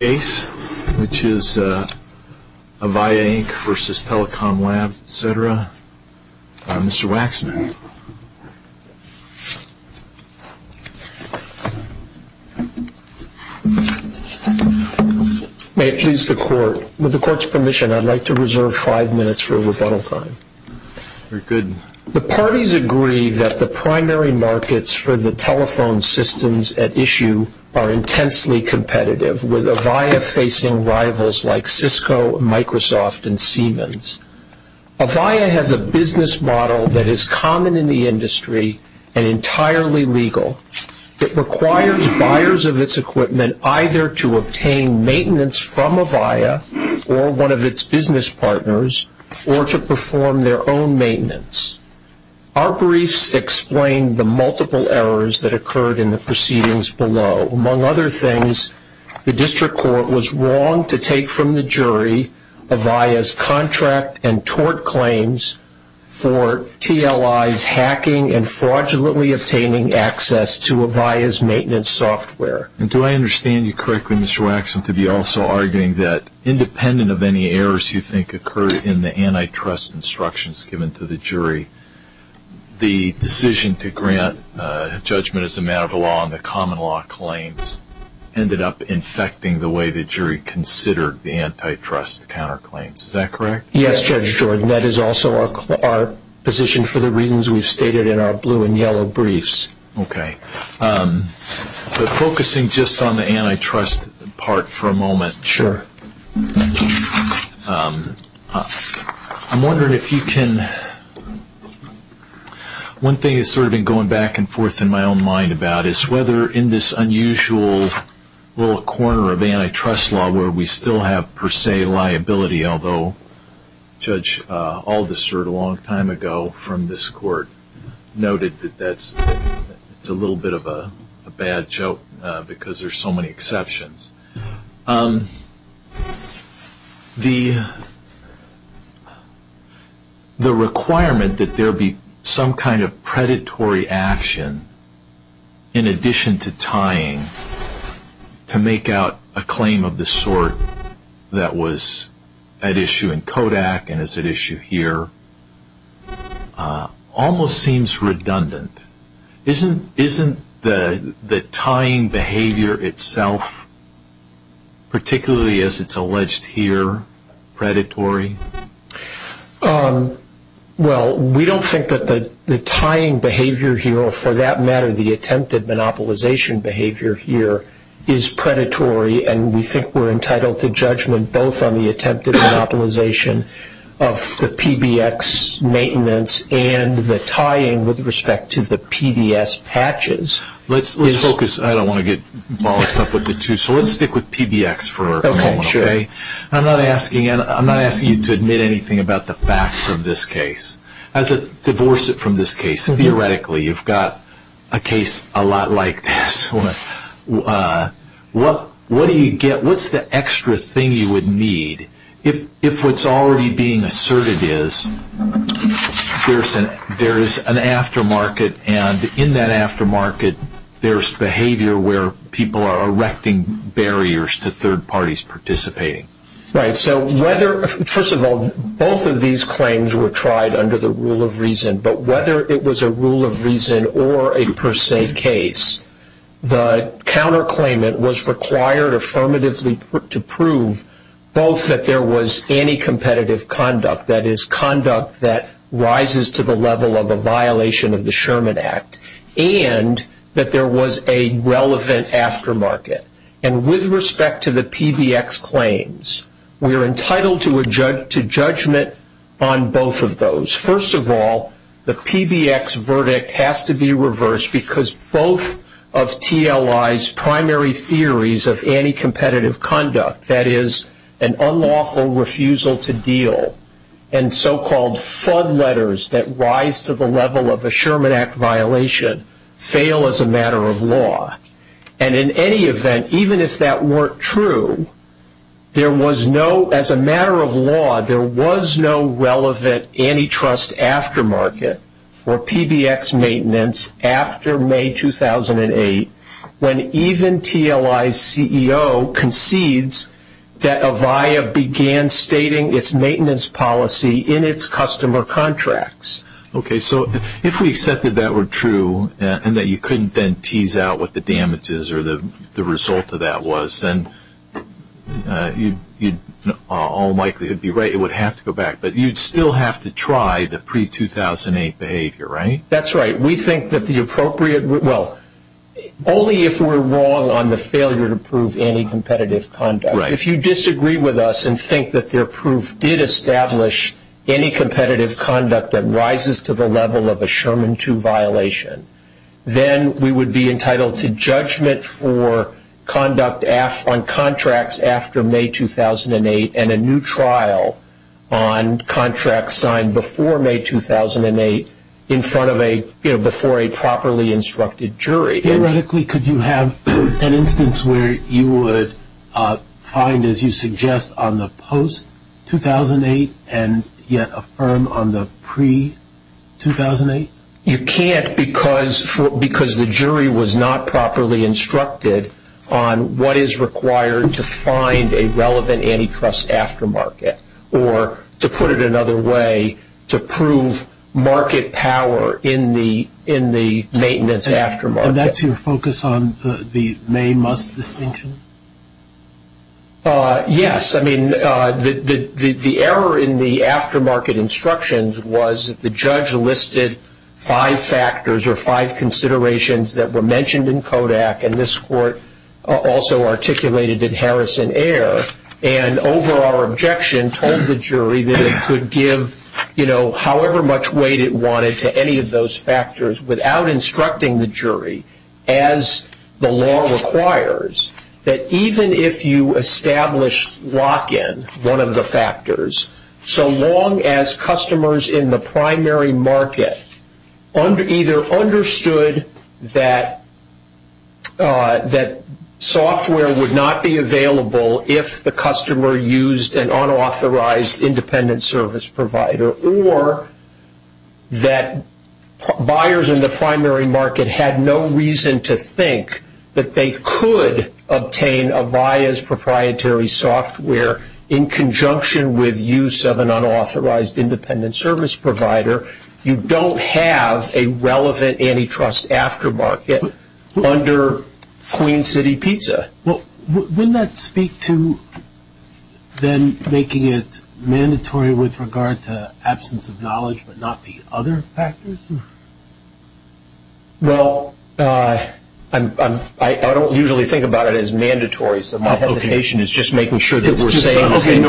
May I please the Court? With the Court's permission, I'd like to reserve five minutes for rebuttal time. The parties agree that the primary markets for the telephone systems at issue are intensely competitive, with Avaya facing rivals like Cisco, Microsoft, and Siemens. Avaya has a business model that is common in the industry and entirely legal that requires buyers of its equipment either to obtain maintenance from Avaya or one of its business partners, or to perform their own maintenance. Our briefs explain the multiple errors that occurred in the proceedings below. Among other things, the District Court was wrong to take from the jury Avaya's contract and tort claims for TLIs hacking and fraudulently obtaining access to Avaya's maintenance software. And do I understand you correctly, Mr. Waxman, to be also arguing that independent of any errors you think occurred in the antitrust instructions given to the jury, the decision to grant judgment as a matter of law on the common law claims ended up infecting the way the jury considered the antitrust counterclaims. Is that correct? Yes, Judge Jordan. That is also our position for the reasons we've stated in our blue and yellow briefs. Okay. Focusing just on the antitrust part for a moment. Sure. Thank you. I'm wondering if you can – one thing that's sort of been going back and forth in my own mind about is whether in this unusual little corner of antitrust law where we still have per se liability, although Judge Aldister a long time ago from this court noted that that's a little bit of a bad joke because there's so many exceptions. The requirement that there be some kind of predatory action in addition to tying to make out a claim of the sort that was at issue in Kodak and is at issue here almost seems redundant. Isn't the tying behavior itself, particularly as it's alleged here, predatory? Well, we don't think that the tying behavior here or for that matter the attempted monopolization behavior here is predatory, and we think we're entitled to judgment both on the attempted monopolization of the PBX maintenance and the tying with respect to the PBS patches. Let's focus – I don't want to get bogged up with the two, so let's stick with PBX for a moment. Okay, sure. Okay. I'm not asking you to admit anything about the facts of this case. Divorce it from this case. Theoretically, you've got a case a lot like this. What do you get? What's the extra thing you would need if what's already being asserted is there's an aftermarket, and in that aftermarket there's behavior where people are erecting barriers to third parties participating? Right. So whether – first of all, both of these claims were tried under the rule of reason, but whether it was a rule of reason or a per se case, the counterclaimant was required affirmatively to prove both that there was anticompetitive conduct, that is, conduct that rises to the level of a violation of the Sherman Act, and that there was a relevant aftermarket. And with respect to the PBX claims, we're entitled to judgment on both of those. First of all, the PBX verdict has to be reversed because both of TLI's primary theories of anticompetitive conduct, that is, an unlawful refusal to deal and so-called FUD letters that rise to the level of a Sherman Act violation, fail as a matter of law. And in any event, even if that weren't true, there was no – as a matter of law, there was no relevant antitrust aftermarket or PBX maintenance after May 2008 when even TLI's CEO concedes that Avaya began stating its maintenance policy in its customer contracts. Okay, so if we said that that were true and that you couldn't then tease out what the damage is or the result of that was, then you're all likely to be right. It would have to go back, but you'd still have to try the pre-2008 behavior, right? That's right. We think that the appropriate – well, only if we're wrong on the failure to prove anticompetitive conduct. Then we would be entitled to judgment for conduct on contracts after May 2008 and a new trial on contracts signed before May 2008 in front of a – before a properly instructed jury. Theoretically, could you have an instance where you would find, as you suggest, on the post-2008 and yet affirm on the pre-2008? You can't because the jury was not properly instructed on what is required to find a relevant antitrust aftermarket or, to put it another way, to prove market power in the maintenance aftermarket. And that's your focus on the May-Must distinction? Yes. I mean, the error in the aftermarket instructions was that the judge listed five factors or five considerations that were mentioned in Kodak, and this court also articulated it Harris and Ayer, and over our objection told the jury that it could give, you know, however much weight it wanted to any of those factors without instructing the jury, as the law requires, that even if you establish lock-in, one of the factors, so long as customers in the primary market either understood that software would not be available if the customer used an unauthorized independent service provider, or that buyers in the primary market had no reason to think that they could obtain Avaya's proprietary software in conjunction with use of an unauthorized independent service provider, you don't have a relevant antitrust aftermarket under Queen City PISA. Well, wouldn't that speak to then making it mandatory with regard to absence of knowledge but not the other factors? Well, I don't usually think about it as mandatory, so my hesitation is just making sure that we're saying the same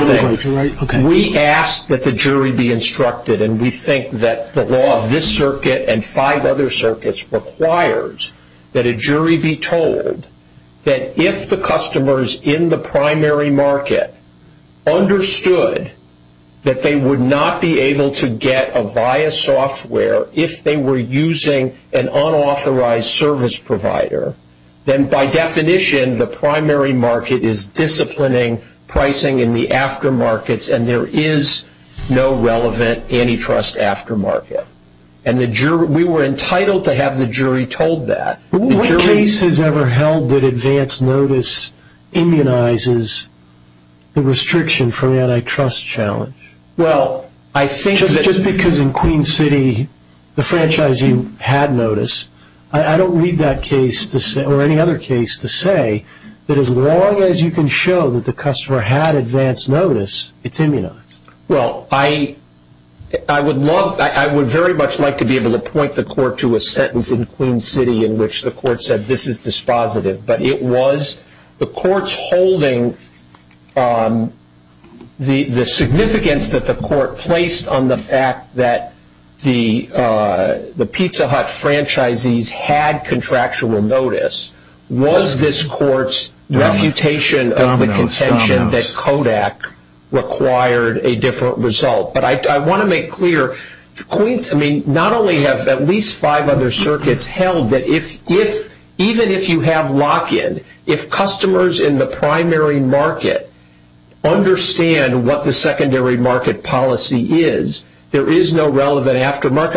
thing. We ask that the jury be instructed, and we think that the law of this circuit and five other circuits requires that a jury be told that if the customers in the primary market understood that they would not be able to get Avaya software if they were using an unauthorized service provider, then by definition, the primary market is disciplining pricing in the aftermarkets, and there is no relevant antitrust aftermarket. And we were entitled to have the jury told that. What case has ever held that advance notice immunizes the restriction from antitrust challenge? Just because in Queen City the franchising had notice, I don't read that case or any other case to say that as long as you can show that the customer had advance notice, it's immunized. Well, I would very much like to be able to point the court to a sentence in Queen City in which the court said this is dispositive, but it was the court's holding the significance that the court placed on the fact that the Pizza Hut franchisees had contractual notice was this court's reputation of the contention that Kodak required a different result. But I want to make clear, not only have at least five other circuits held that even if you have lock-in, if customers in the primary market understand what the secondary market policy is, there is no relevant aftermarket.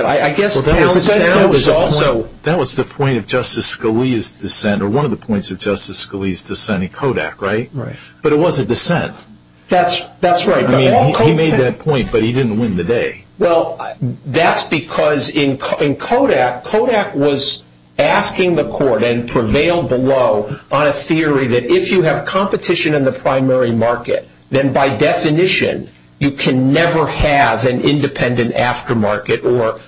That was the point of Justice Scalia's dissent, or one of the points of Justice Scalia's dissent in Kodak, right? Right. But it was a dissent. That's right. He made that point, but he didn't win the day. Well, that's because in Kodak, Kodak was asking the court and prevailed below on a theory that if you have competition in the primary market, then by definition you can never have an independent aftermarket or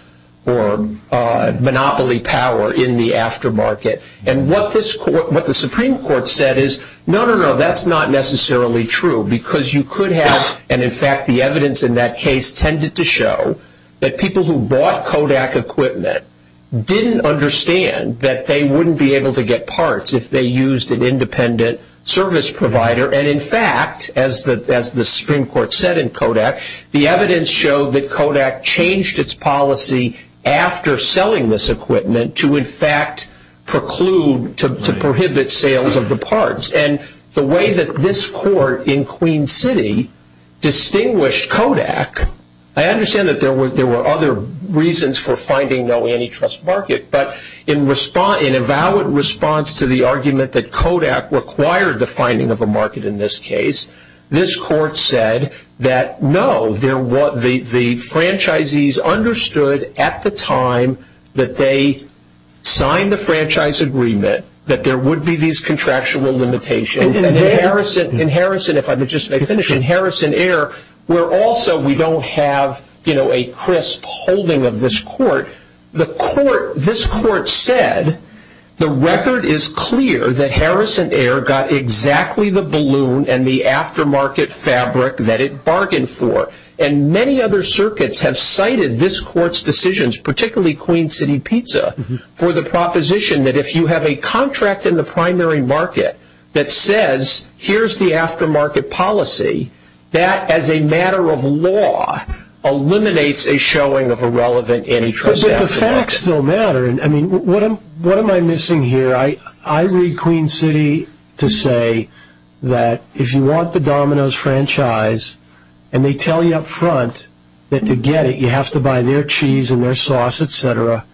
monopoly power in the aftermarket. And what the Supreme Court said is, no, no, no, that's not necessarily true because you could have, and in fact the evidence in that case tended to show, that people who bought Kodak equipment didn't understand that they wouldn't be able to get parts if they used an independent service provider. And in fact, as the Supreme Court said in Kodak, the evidence showed that Kodak changed its policy after selling this equipment to in fact preclude, to prohibit sales of the parts. And the way that this court in Queen City distinguished Kodak, I understand that there were other reasons for finding no antitrust market, but in a valid response to the argument that Kodak required the finding of a market in this case, this court said that no, the franchisees understood at the time that they signed the franchise agreement, that there would be these contractual limitations, and in Harrison Air, where also we don't have a crisp holding of this court, this court said the record is clear that Harrison Air got exactly the balloon and the aftermarket fabric that it bargained for. And many other circuits have cited this court's decisions, particularly Queen City Pizza, for the proposition that if you have a contract in the primary market that says, here's the aftermarket policy, that as a matter of law eliminates a showing of a relevant antitrust action. The facts don't matter. What am I missing here? I read Queen City to say that if you want the Domino's franchise, and they tell you up front that to get it, you have to buy their cheese and their sauce, etc.,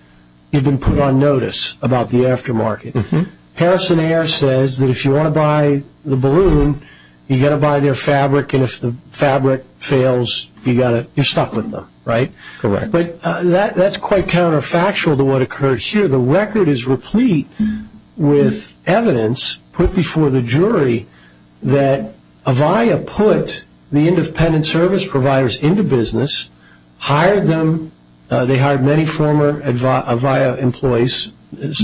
you've been put on notice about the aftermarket. Harrison Air says that if you want to buy the balloon, you've got to buy their fabric, and if the fabric fails, you're stuck with them, right? But that's quite counterfactual to what occurred here. The record is replete with evidence put before the jury that Avaya put the independent service providers into business, hired them, they hired many former Avaya employees,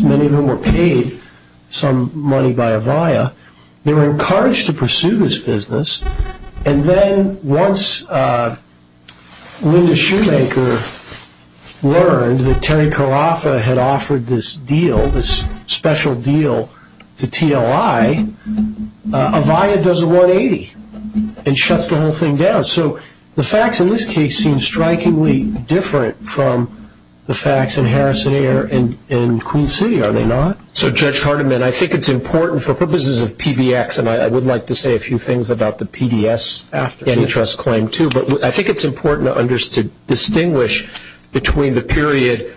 many of whom were paid some money by Avaya. They were encouraged to pursue this business, and then once Linda Shoemaker learned that Terry Carafa had offered this deal, this special deal to TLI, Avaya does a 180 and shuts the whole thing down. The facts in this case seem strikingly different from the facts in Harrison Air and Queen City, are they not? So Judge Hardiman, I think it's important for purposes of PBX, and I would like to say a few things about the PDS interest claim too, but I think it's important to distinguish between the period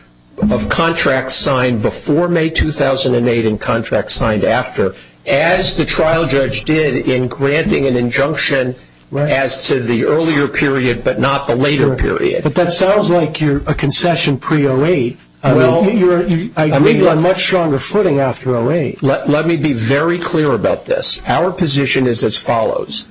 of contracts signed before May 2008 and contracts signed after, as the trial judge did in granting an injunction as to the earlier period but not the later period. But that sounds like you're a concession pre-08. I may be on much stronger footing after 08. Let me be very clear about this. Our position is as follows.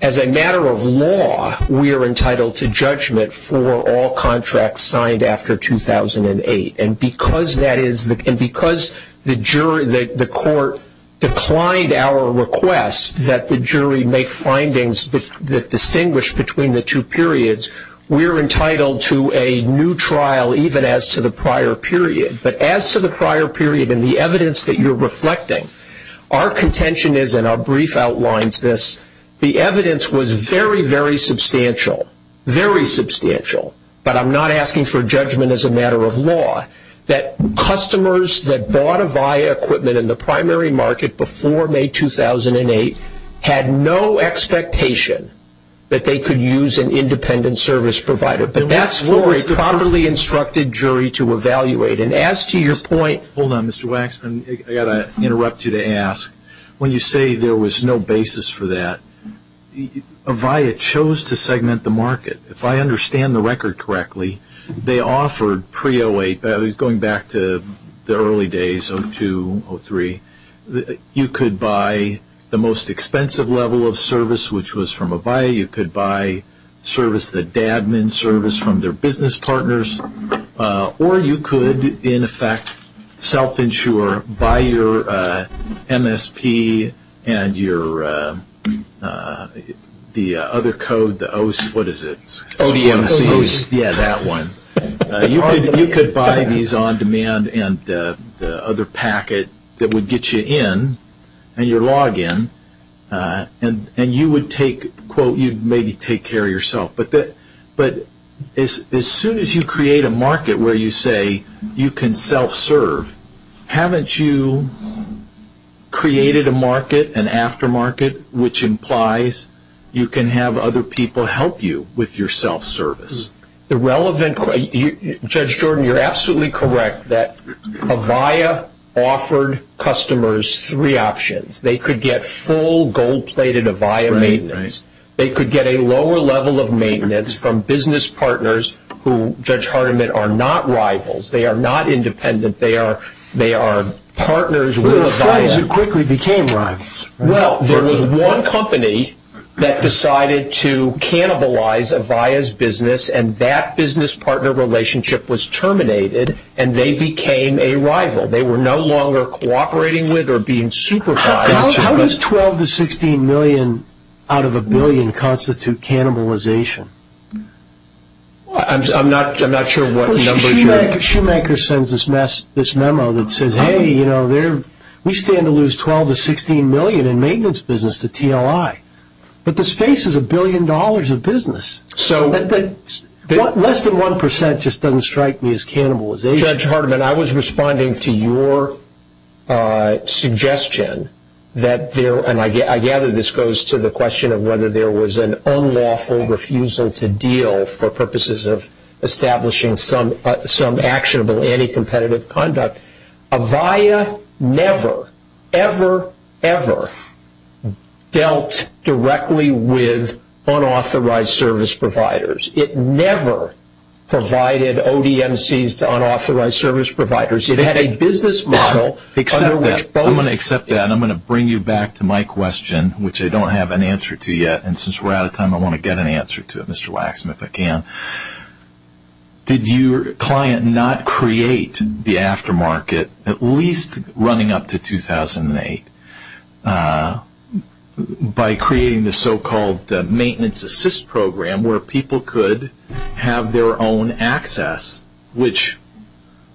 As a matter of law, we are entitled to judgment for all contracts signed after 2008, and because the court declined our request that the jury make findings that distinguish between the two periods, we are entitled to a new trial even as to the prior period. But as to the prior period and the evidence that you're reflecting, our contention is, and our brief outlines this, the evidence was very, very substantial, very substantial, but I'm not asking for judgment as a matter of law, that customers that bought Avaya equipment in the primary market before May 2008 had no expectation that they could use an independent service provider. That's for a properly instructed jury to evaluate, and as to your point... Hold on, Mr. Waxman. I've got to interrupt you to ask. When you say there was no basis for that, Avaya chose to segment the market. If I understand the record correctly, they offered pre-08, going back to the early days, 02, 03, you could buy the most expensive level of service, which was from Avaya. You could buy service, the Dabman service, from their business partners, or you could, in effect, self-insure, buy your MSP and your, the other code, the OC, what is it? ODMC. Yeah, that one. You could buy these on demand and the other packet that would get you in, and you log in, and you would take, quote, you'd maybe take care of yourself. But as soon as you create a market where you say you can self-serve, haven't you created a market, an aftermarket, which implies you can have other people help you with your self-service? Judge Jordan, you're absolutely correct that Avaya offered customers three options. They could get full, gold-plated Avaya maintenance. They could get a lower level of maintenance from business partners who, Judge Hardiman, are not rivals. They are not independent. They are partners with Avaya. Who are the companies that quickly became rivals? Well, there was one company that decided to cannibalize Avaya's business, and that business partner relationship was terminated, and they became a rival. They were no longer cooperating with or being supervised. How does $12 to $16 million out of a billion constitute cannibalization? I'm not sure what numbers you're talking about. Shoemaker sends us this memo that says, hey, you know, we stand to lose $12 to $16 million in maintenance business to TLI. But the space is a billion dollars of business. So less than 1% just doesn't strike me as cannibalization. Judge Hardiman, I was responding to your suggestion that there – and I gather this goes to the question of whether there was an unlawful refusal to deal for purposes of establishing some actionable anti-competitive conduct. Avaya never, ever, ever dealt directly with unauthorized service providers. It never provided ODNCs to unauthorized service providers. It had a business model under which both – I'm going to accept that, and I'm going to bring you back to my question, which I don't have an answer to yet. And since we're out of time, I want to get an answer to it, Mr. Waxman, if I can. Did your client not create the aftermarket, at least running up to 2008, by creating the so-called maintenance assist program where people could have their own access, which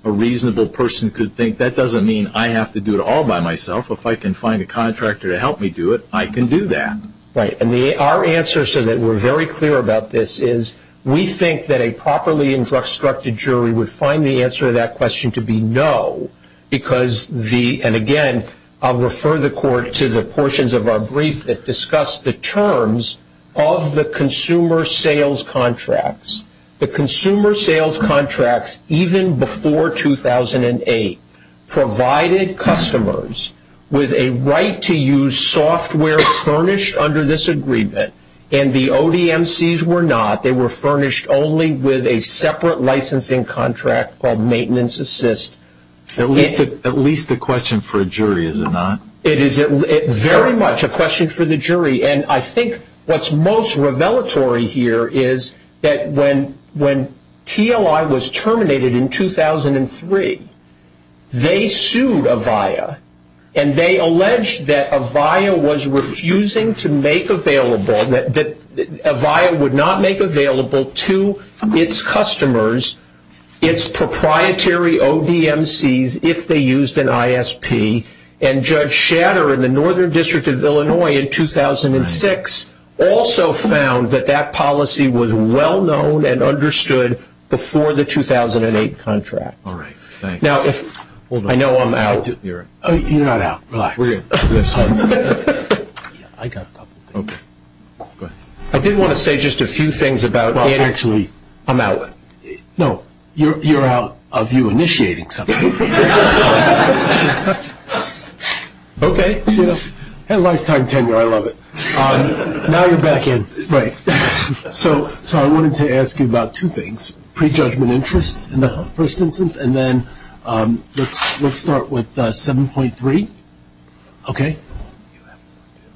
a reasonable person could think that doesn't mean I have to do it all by myself. If I can find a contractor to help me do it, I can do that. Right, and our answer, so that we're very clear about this, is we think that a properly instructed jury would find the answer to that question to be no, because the – and again, I'll refer the court to the portions of our brief that discuss the terms of the consumer sales contracts. The consumer sales contracts, even before 2008, provided customers with a right to use software furnished under this agreement, and the ODNCs were not. And that was only with a separate licensing contract called maintenance assist. At least a question for a jury, is it not? It is very much a question for the jury. And I think what's most revelatory here is that when TOI was terminated in 2003, they sued Avaya, and they alleged that Avaya was refusing to make available, that Avaya would not make available to its customers its proprietary ODNCs if they used an ISP. And Judge Shatter in the Northern District of Illinois in 2006 also found that that policy was well-known and understood before the 2008 contract. All right, thanks. Now, I know I'm out. You're not out. We're good. Yeah, I got it. Okay. I did want to say just a few things about actually, I'm out. No, you're out of you initiating something. Okay. Hey, lifetime tenure, I love it. Now you're back in. Right. So I wanted to ask you about two things, pre-judgment interest in the first instance, and then let's start with 7.3, okay?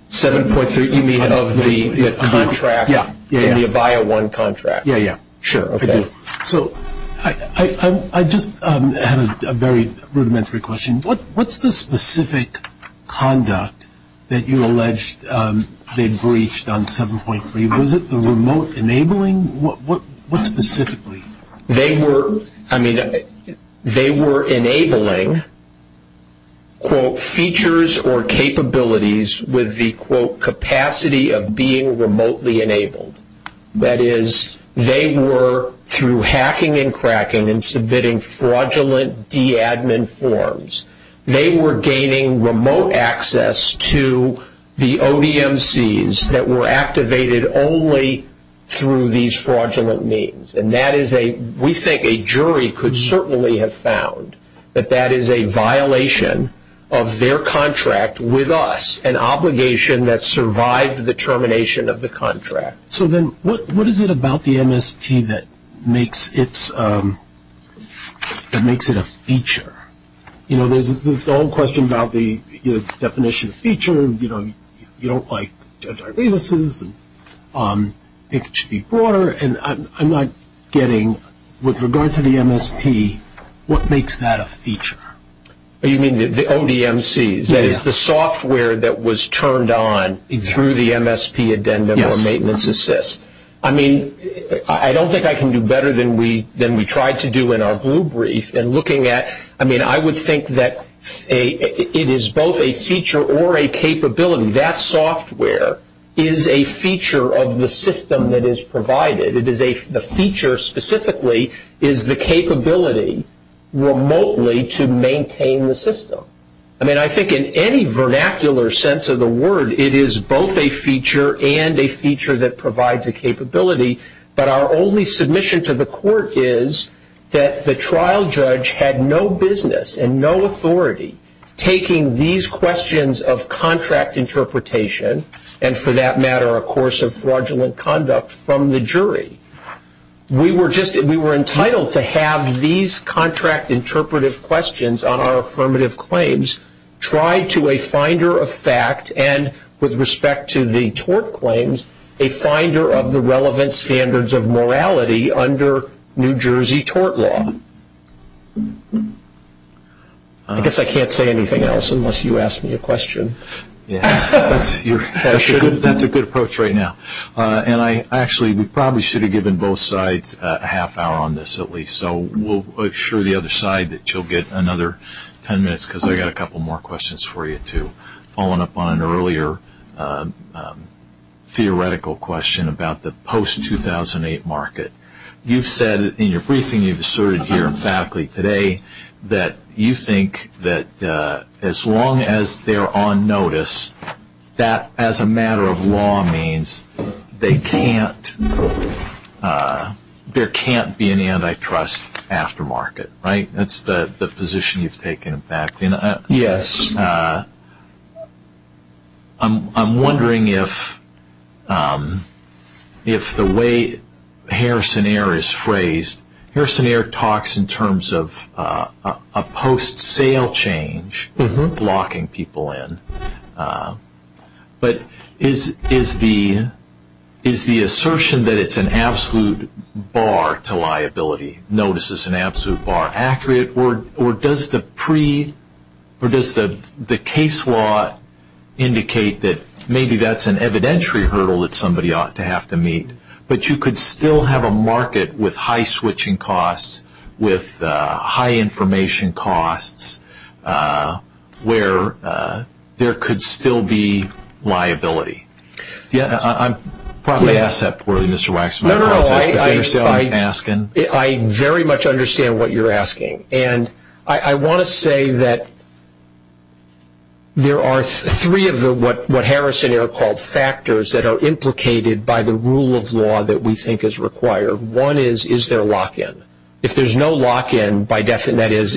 7.3, you mean of the contract in the Avaya 1 contract? Yeah, yeah. Sure, okay. So I just have a very rudimentary question. What's the specific conduct that you alleged they breached on 7.3? Was it the remote enabling? What specifically? They were enabling, quote, features or capabilities with the, quote, capacity of being remotely enabled. That is, they were, through hacking and cracking and submitting fraudulent D admin forms, they were gaining remote access to the OEMCs that were activated only through these fraudulent means, and that is a, we think a jury could certainly have found that that is a violation of their contract with us, an obligation that survived the termination of the contract. So then what is it about the MST that makes it a feature? You know, there's the whole question about the definition of feature, and, you know, you don't like antiviruses and HP4, and I'm not getting, with regard to the MST, what makes that a feature? You mean the OEMCs? That is, the software that was turned on through the MST addendum or maintenance assist. I mean, I don't think I can do better than we tried to do in our blue brief in looking at, I mean, I would think that it is both a feature or a capability. That software is a feature of the system that is provided. The feature specifically is the capability remotely to maintain the system. I mean, I think in any vernacular sense of the word, it is both a feature and a feature that provides a capability, but our only submission to the court is that the trial judge had no business and no authority taking these questions of contract interpretation and, for that matter, a course of fraudulent conduct from the jury. We were entitled to have these contract interpretive questions on our affirmative claims tried to a finder of fact and, with respect to the tort claims, a finder of the relevant standards of morality under New Jersey tort law. I guess I can't say anything else unless you ask me a question. That's a good approach right now. Actually, we probably should have given both sides a half hour on this at least, so we'll assure the other side that you'll get another ten minutes because I've got a couple more questions for you too. I was following up on an earlier theoretical question about the post-2008 market. You've said in your briefing you've asserted here in factly today that you think that as long as they're on notice, that as a matter of law means there can't be an antitrust aftermarket, right? That's the position you've taken, in fact. Yes. I'm wondering if the way Harrison Ayer is phrased, Harrison Ayer talks in terms of a post-sale change blocking people in, but is the assertion that it's an absolute bar to liability, notice is an absolute bar, accurate, or does the case law indicate that maybe that's an evidentiary hurdle that somebody ought to have to meet, but you could still have a market with high switching costs, with high information costs, where there could still be liability? I probably asked that poorly, Mr. Waxman. No, no, no. I understand what you're asking. I want to say that there are three of what Harrison Ayer called factors that are implicated by the rule of law that we think is required. One is, is there a lock-in? If there's no lock-in, that is,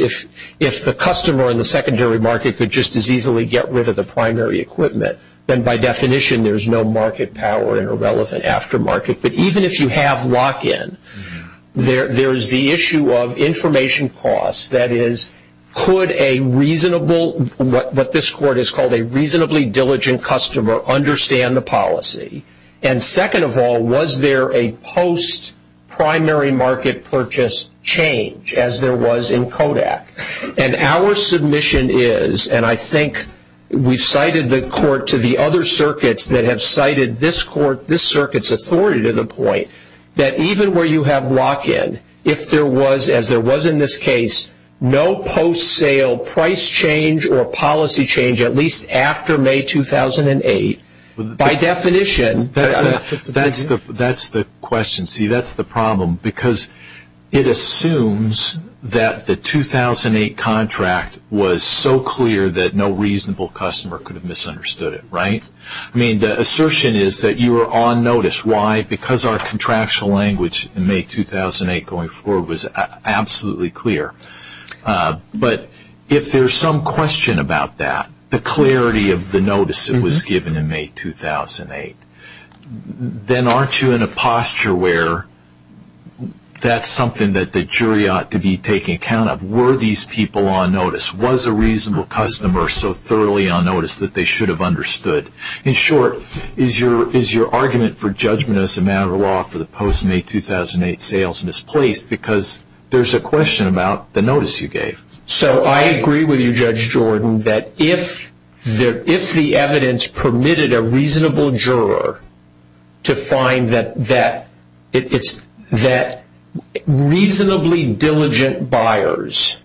if the customer in the secondary market could just as easily get rid of the primary equipment, then by definition there's no market power in a relevant aftermarket. But even if you have lock-in, there's the issue of information costs, that is, could a reasonable, what this court has called a reasonably diligent customer, understand the policy? And second of all, was there a post-primary market purchase change, as there was in Kodak? And our submission is, and I think we cited the court to the other circuits that have cited this court, its authority to the point that even where you have lock-in, if there was, as there was in this case, no post-sale price change or policy change, at least after May 2008, by definition. That's the question. See, that's the problem because it assumes that the 2008 contract was so clear that no reasonable customer could have misunderstood it, right? I mean, the assertion is that you were on notice. Why? Because our contractual language in May 2008 going forward was absolutely clear. But if there's some question about that, the clarity of the notice that was given in May 2008, then aren't you in a posture where that's something that the jury ought to be taking account of? Were these people on notice? Was the reasonable customer so thoroughly on notice that they should have understood? In short, is your argument for judgment as a matter of law for the post-May 2008 sales misplaced because there's a question about the notice you gave? So I agree with you, Judge Jordan, that if the evidence permitted a reasonable juror to find that reasonably diligent buyers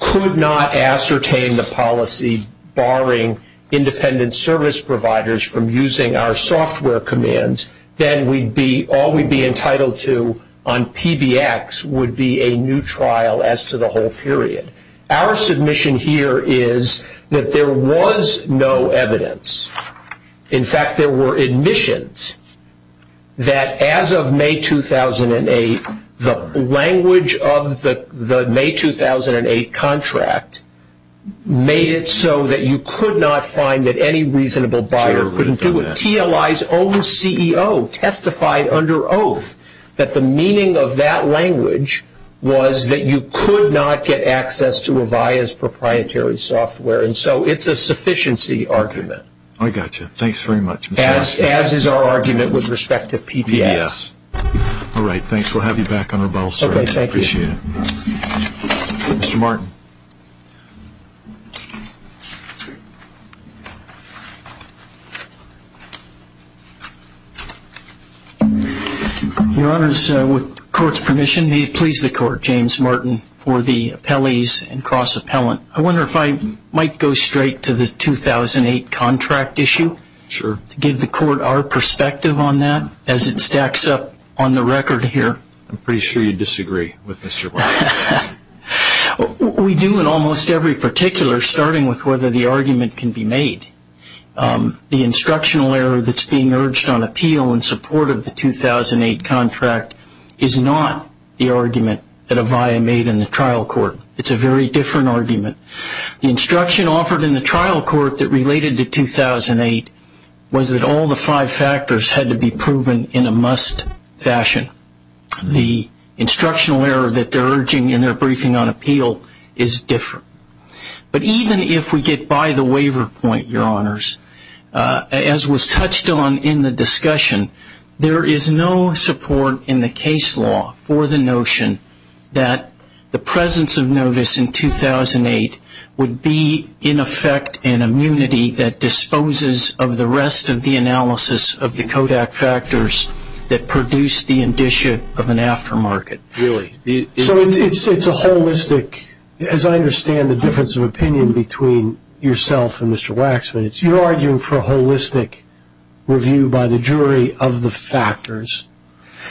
could not ascertain the policy barring independent service providers from using our software commands, then all we'd be entitled to on PBX would be a new trial as to the whole period. Our submission here is that there was no evidence. In fact, there were admissions that as of May 2008, the language of the May 2008 contract made it so that you could not find that any reasonable buyer could do it. TLI's own CEO testified under oath that the meaning of that language was that you could not get access to a buyer's proprietary software, and so it's a sufficiency argument. I got you. Thanks very much. As is our argument with respect to PBX. All right. Thanks. We'll have you back on the ball, sir. Okay. Thank you. I appreciate it. Mr. Martin. Thank you. Your Honors, with the Court's permission, may it please the Court, James Martin, for the appellees and cross-appellant. I wonder if I might go straight to the 2008 contract issue to give the Court our perspective on that as it stacks up on the record here. I'm pretty sure you disagree with Mr. Martin. We do in almost every particular, starting with whether the argument can be made. The instructional error that's being urged on appeal in support of the 2008 contract is not the argument that Avaya made in the trial court. It's a very different argument. The instruction offered in the trial court that related to 2008 was that all the five factors had to be proven in a must fashion. The instructional error that they're urging in their briefing on appeal is different. But even if we get by the waiver point, Your Honors, as was touched on in the discussion, there is no support in the case law for the notion that the presence of notice in 2008 would be, in effect, an immunity that disposes of the rest of the analysis of the Kodak factors that produce the indicia of an aftermarket. Really? So it's a holistic, as I understand the difference of opinion between yourself and Mr. Waxman, you're arguing for a holistic review by the jury of the factors.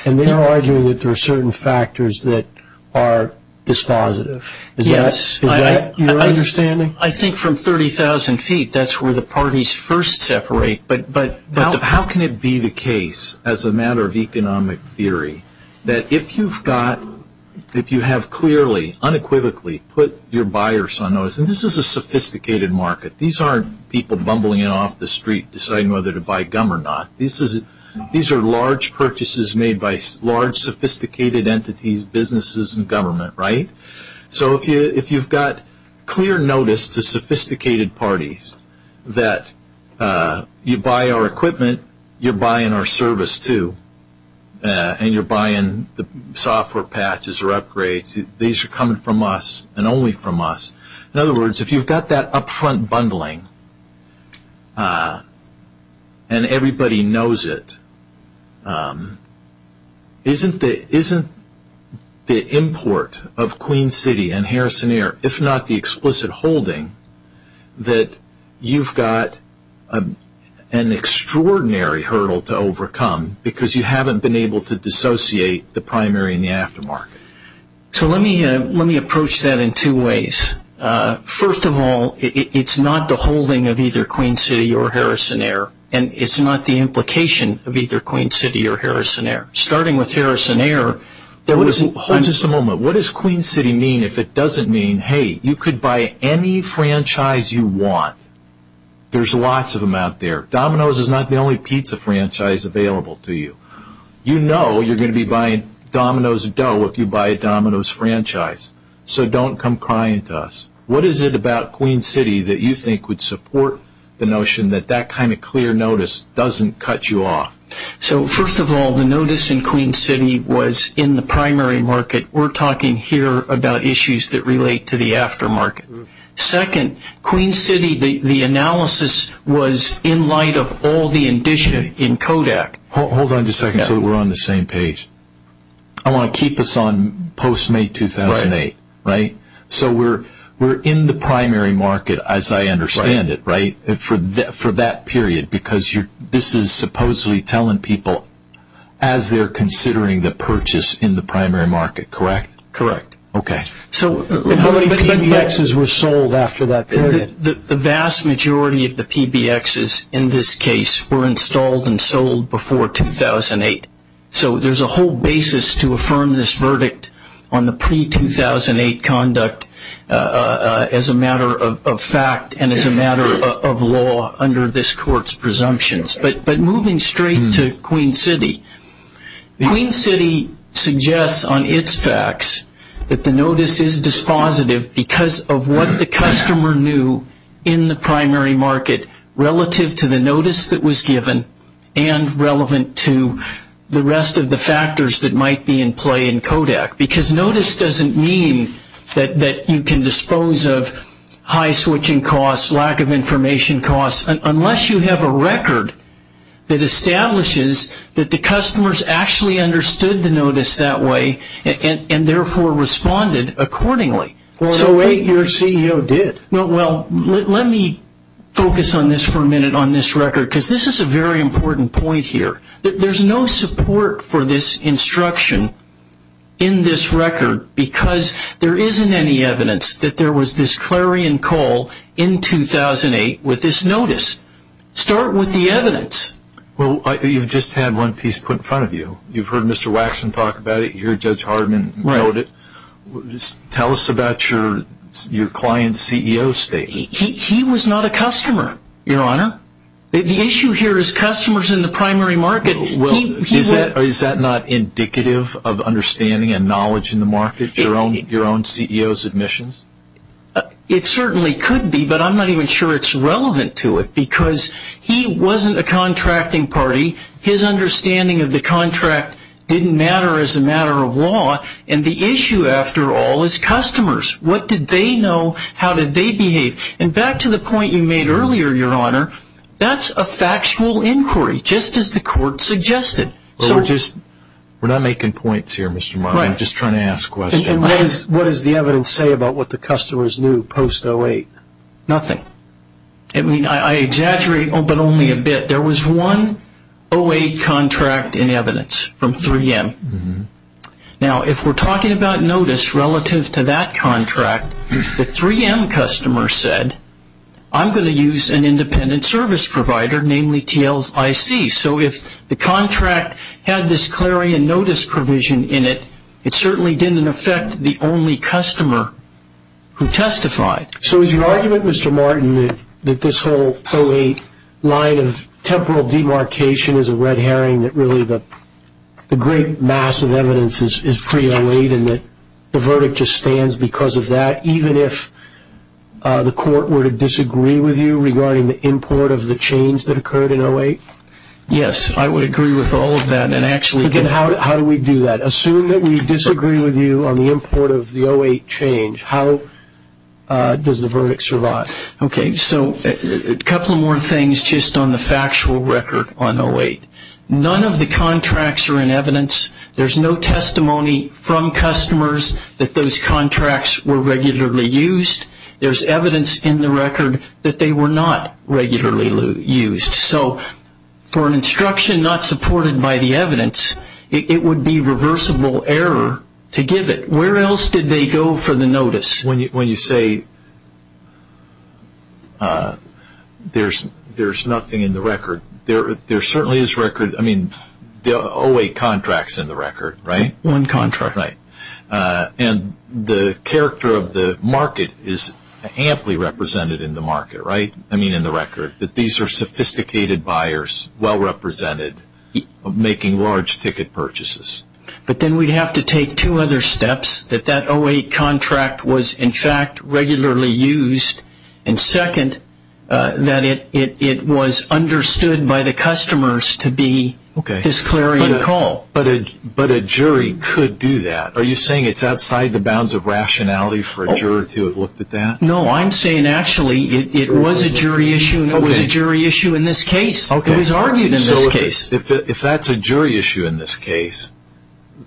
And they're arguing that there are certain factors that are dispositive. Yes. Is that your understanding? I think from 30,000 feet, that's where the parties first separate. But how can it be the case, as a matter of economic theory, that if you have clearly, unequivocally put your buyers on notice, and this is a sophisticated market. These aren't people bumbling off the street deciding whether to buy gum or not. These are large purchases made by large, sophisticated entities, businesses, and government, right? So if you've got clear notice to sophisticated parties that you buy our equipment, you're buying our service, too. And you're buying the software patches or upgrades. These are coming from us and only from us. In other words, if you've got that upfront bundling, and everybody knows it, isn't the import of Queen City and Harrison Air, if not the explicit holding, that you've got an extraordinary hurdle to overcome because you haven't been able to dissociate the primary and the aftermarket? So let me approach that in two ways. First of all, it's not the holding of either Queen City or Harrison Air, and it's not the implication of either Queen City or Harrison Air. Starting with Harrison Air, hold just a moment. What does Queen City mean if it doesn't mean, hey, you could buy any franchise you want? There's lots of them out there. Domino's is not the only pizza franchise available to you. You know you're going to be buying Domino's dough if you buy a Domino's franchise. So don't come crying to us. What is it about Queen City that you think would support the notion that that kind of clear notice doesn't cut you off? So first of all, the notice in Queen City was in the primary market. We're talking here about issues that relate to the aftermarket. Second, Queen City, the analysis was in light of all the addition in Kodak. Hold on just a second so that we're on the same page. I want to keep us on post-May 2008, right? So we're in the primary market as I understand it, right, for that period, because this is supposedly telling people as they're considering the purchase in the primary market, correct? Correct. Okay. So how many PBXs were sold after that period? The vast majority of the PBXs in this case were installed and sold before 2008. So there's a whole basis to affirm this verdict on the pre-2008 conduct as a matter of fact and as a matter of law under this court's presumptions. But moving straight to Queen City, Queen City suggests on its facts that the notice is dispositive because of what the customer knew in the primary market relative to the notice that was given and relevant to the rest of the factors that might be in play in Kodak, because notice doesn't mean that you can dispose of high switching costs, lack of information costs, unless you have a record that establishes that the customers actually understood the notice that way and therefore responded accordingly. So wait, your CEO did. Well, let me focus on this for a minute on this record, because this is a very important point here. There's no support for this instruction in this record because there isn't any evidence that there was this clarion call in 2008 with this notice. Start with the evidence. Well, you've just had one piece put in front of you. You've heard Mr. Waxman talk about it. You heard Judge Hardman note it. Tell us about your client's CEO state. He was not a customer, Your Honor. The issue here is customers in the primary market. Is that not indicative of understanding and knowledge in the market, your own CEO's admissions? It certainly could be, but I'm not even sure it's relevant to it, because he wasn't a contracting party. His understanding of the contract didn't matter as a matter of law, and the issue after all is customers. What did they know? How did they behave? And back to the point you made earlier, Your Honor, that's a factual inquiry. Just as the court suggested. We're not making points here, Mr. Martin. I'm just trying to ask questions. What does the evidence say about what the customers knew post-08? Nothing. I exaggerate, but only a bit. There was one 08 contract in evidence from 3M. Now, if we're talking about notice relative to that contract, if the 3M customer said, I'm going to use an independent service provider, mainly TLIC. So if the contract had this clarion notice provision in it, it certainly didn't affect the only customer who testified. So is your argument, Mr. Martin, that this whole 08 line of temporal demarcation is a red herring, that really the great mass of evidence is pre-08 and that the verdict just stands because of that, even if the court were to disagree with you regarding the import of the change that occurred in 08? Yes, I would agree with all of that. How do we do that? Assume that we disagree with you on the import of the 08 change. How does the verdict survive? Okay, so a couple more things just on the factual record on 08. None of the contracts are in evidence. There's no testimony from customers that those contracts were regularly used. There's evidence in the record that they were not regularly used. So for an instruction not supported by the evidence, it would be reversible error to give it. Where else did they go for the notice? When you say there's nothing in the record, there certainly is record. I mean, there are 08 contracts in the record, right? One contract. Right. And the character of the market is amply represented in the record, right, that these are sophisticated buyers, well-represented, making large ticket purchases. But then we'd have to take two other steps, that that 08 contract was, in fact, regularly used, and second, that it was understood by the customers to be a disclairing call. But a jury could do that. Are you saying it's outside the bounds of rationality for a juror to have looked at that? No, I'm saying actually it was a jury issue, and it was a jury issue in this case. It was argued in this case. If that's a jury issue in this case,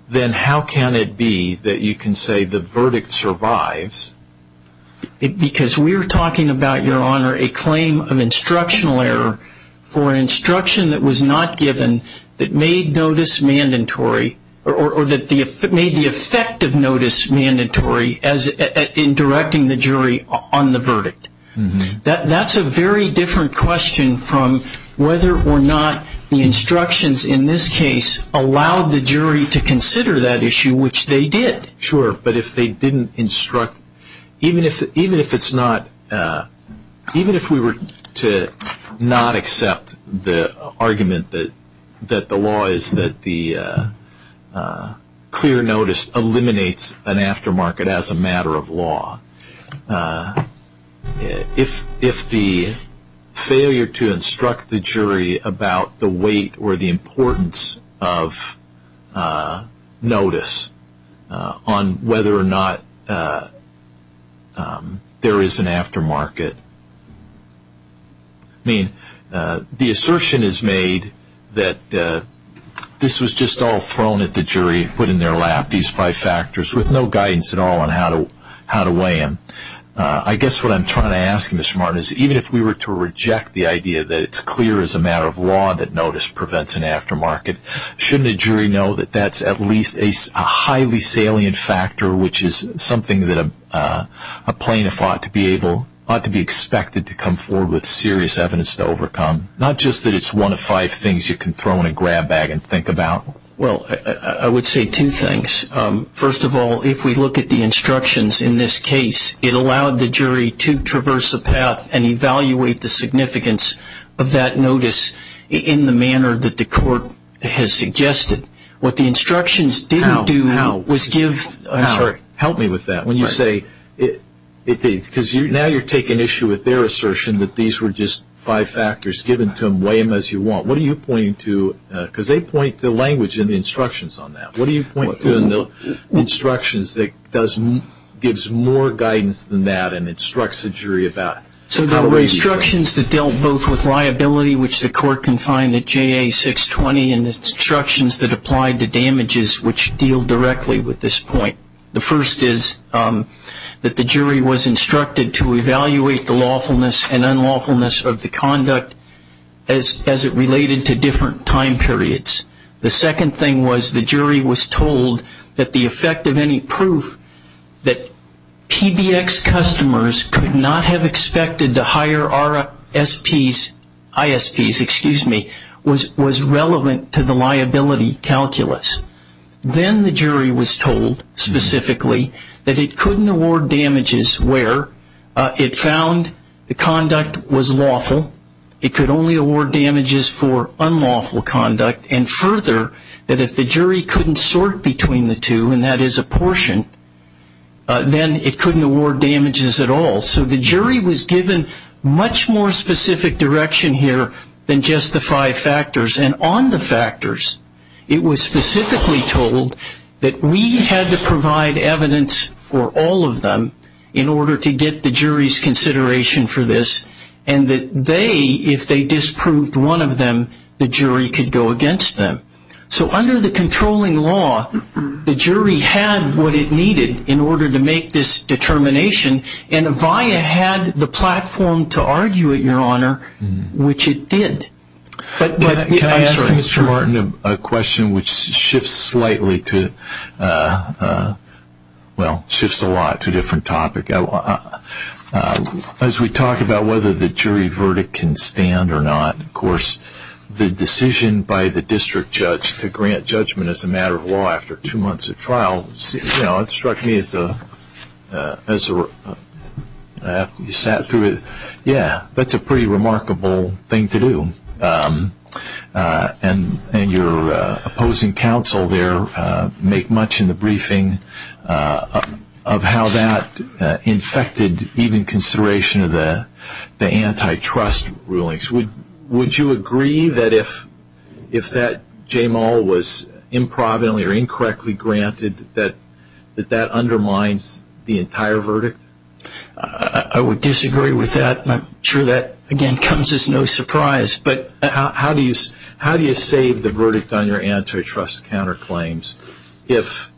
then how can it be that you can say the verdict survives? Because we're talking about, Your Honor, a claim of instructional error for an instruction that was not given that made notice mandatory or that made the effect of notice mandatory in directing the jury on the verdict. That's a very different question from whether or not the instructions in this case allowed the jury to consider that issue, which they did. Sure, but if they didn't instruct, even if it's not, even if we were to not accept the argument that the law is that the clear notice eliminates an aftermarket as a matter of law. If the failure to instruct the jury about the weight or the importance of notice on whether or not there is an aftermarket, I mean the assertion is made that this was just all thrown at the jury and put in their lap, with no guidance at all on how to weigh in. I guess what I'm trying to ask, Mr. Martin, is even if we were to reject the idea that it's clear as a matter of law that notice prevents an aftermarket, shouldn't a jury know that that's at least a highly salient factor, which is something that a plaintiff ought to be expected to come forward with serious evidence to overcome? Not just that it's one of five things you can throw in a grab bag and think about. Well, I would say two things. First of all, if we look at the instructions in this case, it allowed the jury to traverse a path and evaluate the significance of that notice in the manner that the court has suggested. What the instructions didn't do was give... Help me with that. When you say, because now you're taking issue with their assertion that these were just five factors, given to them, weigh them as you want, what are you pointing to? Because they point the language in the instructions on that. What are you pointing to in the instructions that gives more guidance than that and instructs the jury about... So the instructions that dealt both with liability, which the court can find at JA620, and the instructions that applied to damages, which deal directly with this point. The first is that the jury was instructed to evaluate the lawfulness and unlawfulness of the conduct as it related to different time periods. The second thing was the jury was told that the effect of any proof that PBX customers could not have expected to hire ISPs was relevant to the liability calculus. Then the jury was told, specifically, that it couldn't award damages where it found the conduct was lawful, it could only award damages for unlawful conduct, and further, that if the jury couldn't sort between the two, and that is a portion, then it couldn't award damages at all. So the jury was given much more specific direction here than just the five factors. And on the factors, it was specifically told that we had to provide evidence for all of them in order to get the jury's consideration for this, and that they, if they disproved one of them, the jury could go against them. So under the controlling law, the jury had what it needed in order to make this determination, and Avaya had the platform to argue it, Your Honor, which it did. Can I answer, Mr. Martin, a question which shifts slightly to, well, shifts a lot to a different topic. As we talk about whether the jury verdict can stand or not, of course, the decision by the district judge to grant judgment as a matter of law after two months of trial, you know, it struck me as you sat through it, yeah, that's a pretty remarkable thing to do. And your opposing counsel there make much in the briefing of how that infected even consideration of the antitrust rulings. Would you agree that if that JMO was improbably or incorrectly granted, that that undermines the entire verdict? I would disagree with that. I'm sure that, again, comes as no surprise. But how do you say the verdict on your antitrust counterclaims if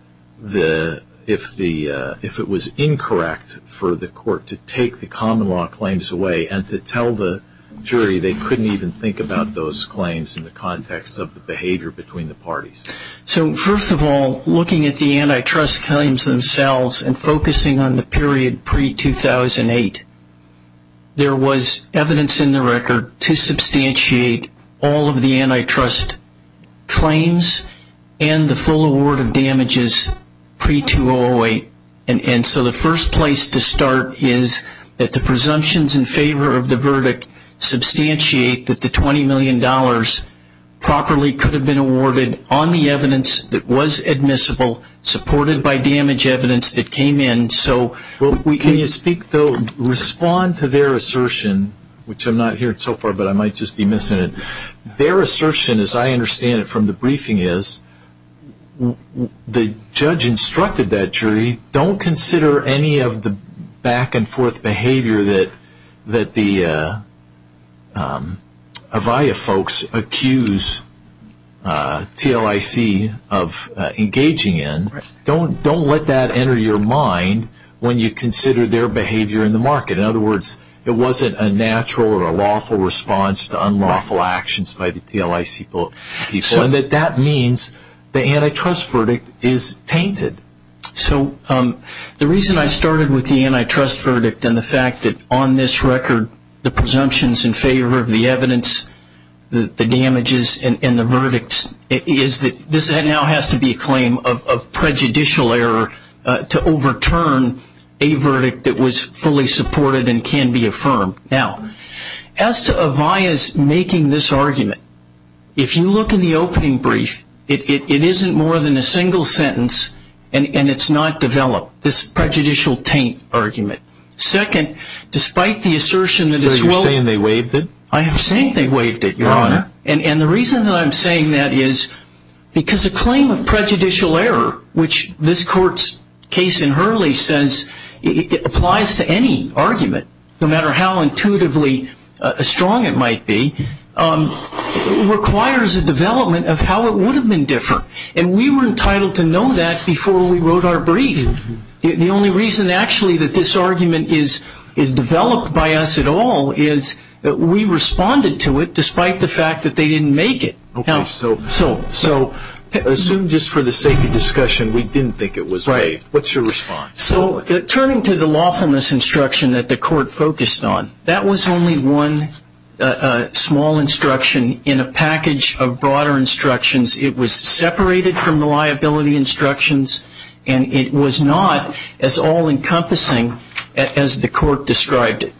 it was incorrect for the court to take the common law claims away and to tell the jury they couldn't even think about those claims in the context of the behavior between the parties? So, first of all, looking at the antitrust claims themselves and focusing on the period pre-2008, there was evidence in the record to substantiate all of the antitrust claims and the full award of damages pre-2008. And so the first place to start is that the presumptions in favor of the verdict substantiate that the $20 million properly could have been awarded on the evidence that was admissible, supported by damage evidence that came in. Can you respond to their assertion, which I'm not hearing so far, but I might just be missing it. Their assertion, as I understand it from the briefing, is the judge instructed that jury, don't consider any of the back-and-forth behavior that the Avaya folks accused TLIC of engaging in. Don't let that enter your mind when you consider their behavior in the market. In other words, it wasn't a natural or a lawful response to unlawful actions by the TLIC people. So that means the antitrust verdict is tainted. So the reason I started with the antitrust verdict and the fact that on this record, the presumptions in favor of the evidence, the damages, and the verdicts, is that this now has to be a claim of prejudicial error to overturn a verdict that was fully supported and can be affirmed. Now, as to Avaya's making this argument, if you look in the opening brief, it isn't more than a single sentence, and it's not developed, this prejudicial taint argument. Second, despite the assertion that it's well- So you're saying they waived it? I am saying they waived it, Your Honor. And the reason that I'm saying that is because a claim of prejudicial error, which this court's case in Hurley says applies to any argument, no matter how intuitively strong it might be, requires a development of how it would have been different. And we were entitled to know that before we wrote our brief. The only reason, actually, that this argument is developed by us at all is that we responded to it despite the fact that they didn't make it. Okay, so assume just for the sake of discussion we didn't think it was waived. What's your response? So turning to the lawfulness instruction that the court focused on, that was only one small instruction in a package of broader instructions. It was separated from the liability instructions, and it was not as all-encompassing as the court described it.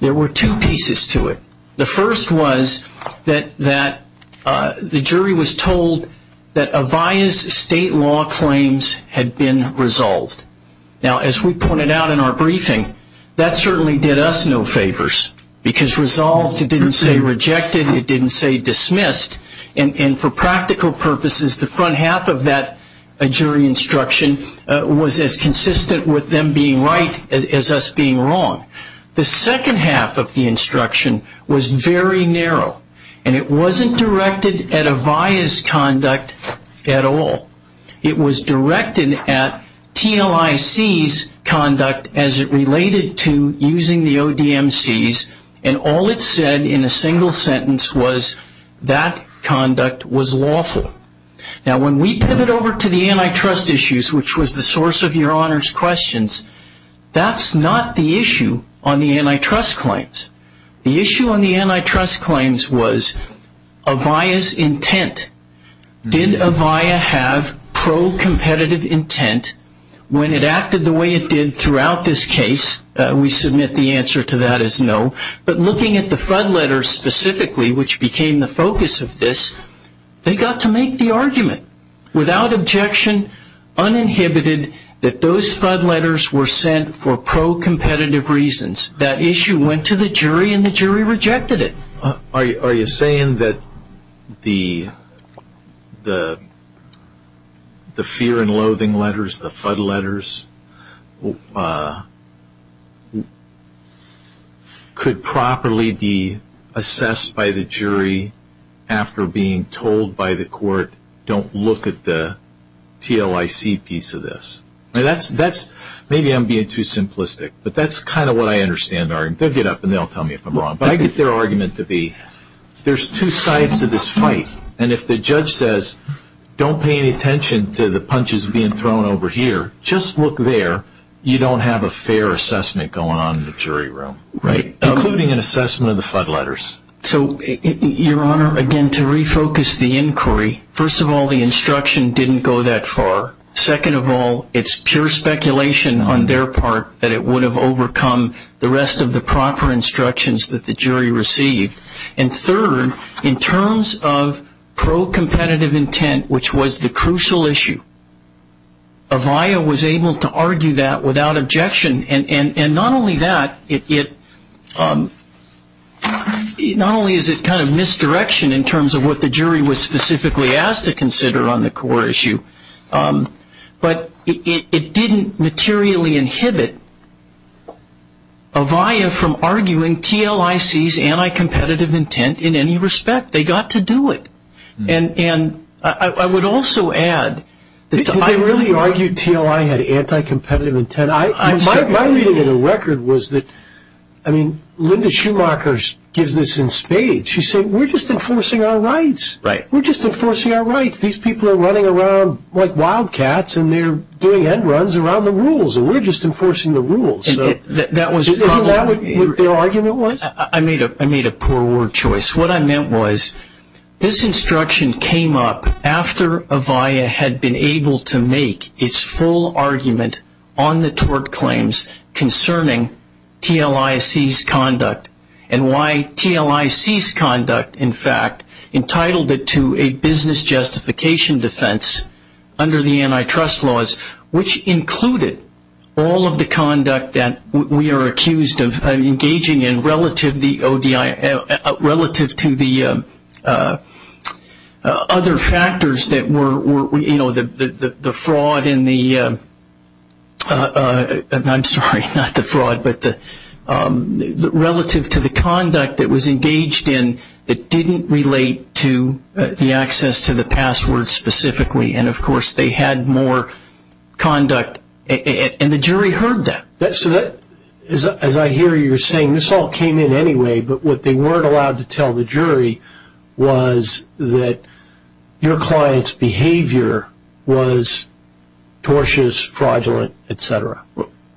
There were two pieces to it. The first was that the jury was told that a vias state law claims had been resolved. Now, as we pointed out in our briefing, that certainly did us no favors because resolved didn't say rejected. It didn't say dismissed. And for practical purposes, the front half of that jury instruction was as consistent with them being right as us being wrong. The second half of the instruction was very narrow, and it wasn't directed at a vias conduct at all. It was directed at TNOIC's conduct as it related to using the ODMC's, and all it said in a single sentence was that conduct was lawful. Now, when we pivot over to the antitrust issues, which was the source of Your Honor's questions, that's not the issue on the antitrust claims. The issue on the antitrust claims was a via's intent. Did a via have pro-competitive intent when it acted the way it did throughout this case? We submit the answer to that as no. But looking at the FUD letters specifically, which became the focus of this, they got to make the argument without objection, uninhibited, that those FUD letters were sent for pro-competitive reasons. That issue went to the jury, and the jury rejected it. Are you saying that the fear and loathing letters, the FUD letters, could properly be assessed by the jury after being told by the court, don't look at the TLIC piece of this? Maybe I'm being too simplistic, but that's kind of what I understand. They'll get up and they'll tell me if I'm wrong. But I get their argument to be, there's two sides to this fight, and if the judge says, don't pay any attention to the punches being thrown over here, just look there, you don't have a fair assessment going on in the jury room, including an assessment of the FUD letters. Your Honor, again, to refocus the inquiry, first of all, the instruction didn't go that far. Second of all, it's pure speculation on their part that it would have overcome the rest of the proper instructions that the jury received. And third, in terms of pro-competitive intent, which was the crucial issue, Avaya was able to argue that without objection. And not only that, not only is it kind of misdirection in terms of what the jury was specifically asked to consider on the core issue, but it didn't materially inhibit Avaya from arguing TLIC's anti-competitive intent in any respect. They got to do it. And I would also add... Did they really argue TLI had anti-competitive intent? My reading of the record was that Linda Schumacher gives this in spades. She said, we're just enforcing our rights. We're just enforcing our rights. These people are running around like wildcats, and they're doing head runs around the rules. And we're just enforcing the rules. Isn't that what their argument was? I made a poor word choice. What I meant was this instruction came up after Avaya had been able to make its full argument on the tort claims concerning TLIC's conduct and why TLIC's conduct, in fact, entitled it to a business justification defense under the antitrust laws, which included all of the conduct that we are accused of engaging in relative to the other factors that were, you know, the fraud in the... I'm sorry, not the fraud, but relative to the conduct that was engaged in that didn't relate to the access to the passwords specifically. And, of course, they had more conduct, and the jury heard that. So that, as I hear you saying, this all came in anyway, but what they weren't allowed to tell the jury was that your client's behavior was tortious, fraudulent, et cetera.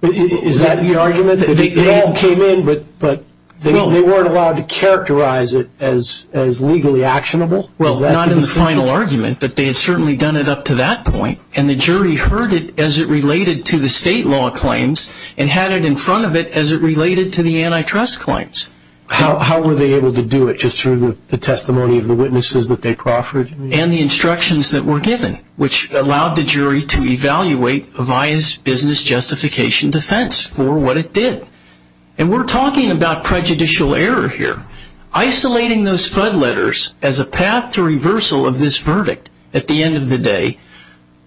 Is that the argument? They all came in, but they weren't allowed to characterize it as legally actionable? Well, not in the final argument, but they had certainly done it up to that point, and the jury heard it as it related to the state law claims and had it in front of it as it related to the antitrust claims. How were they able to do it, just through the testimony of the witnesses that they proffered? And the instructions that were given, which allowed the jury to evaluate Avaya's business justification defense for what it did. And we're talking about prejudicial error here. Isolating those flood letters as a path to reversal of this verdict at the end of the day,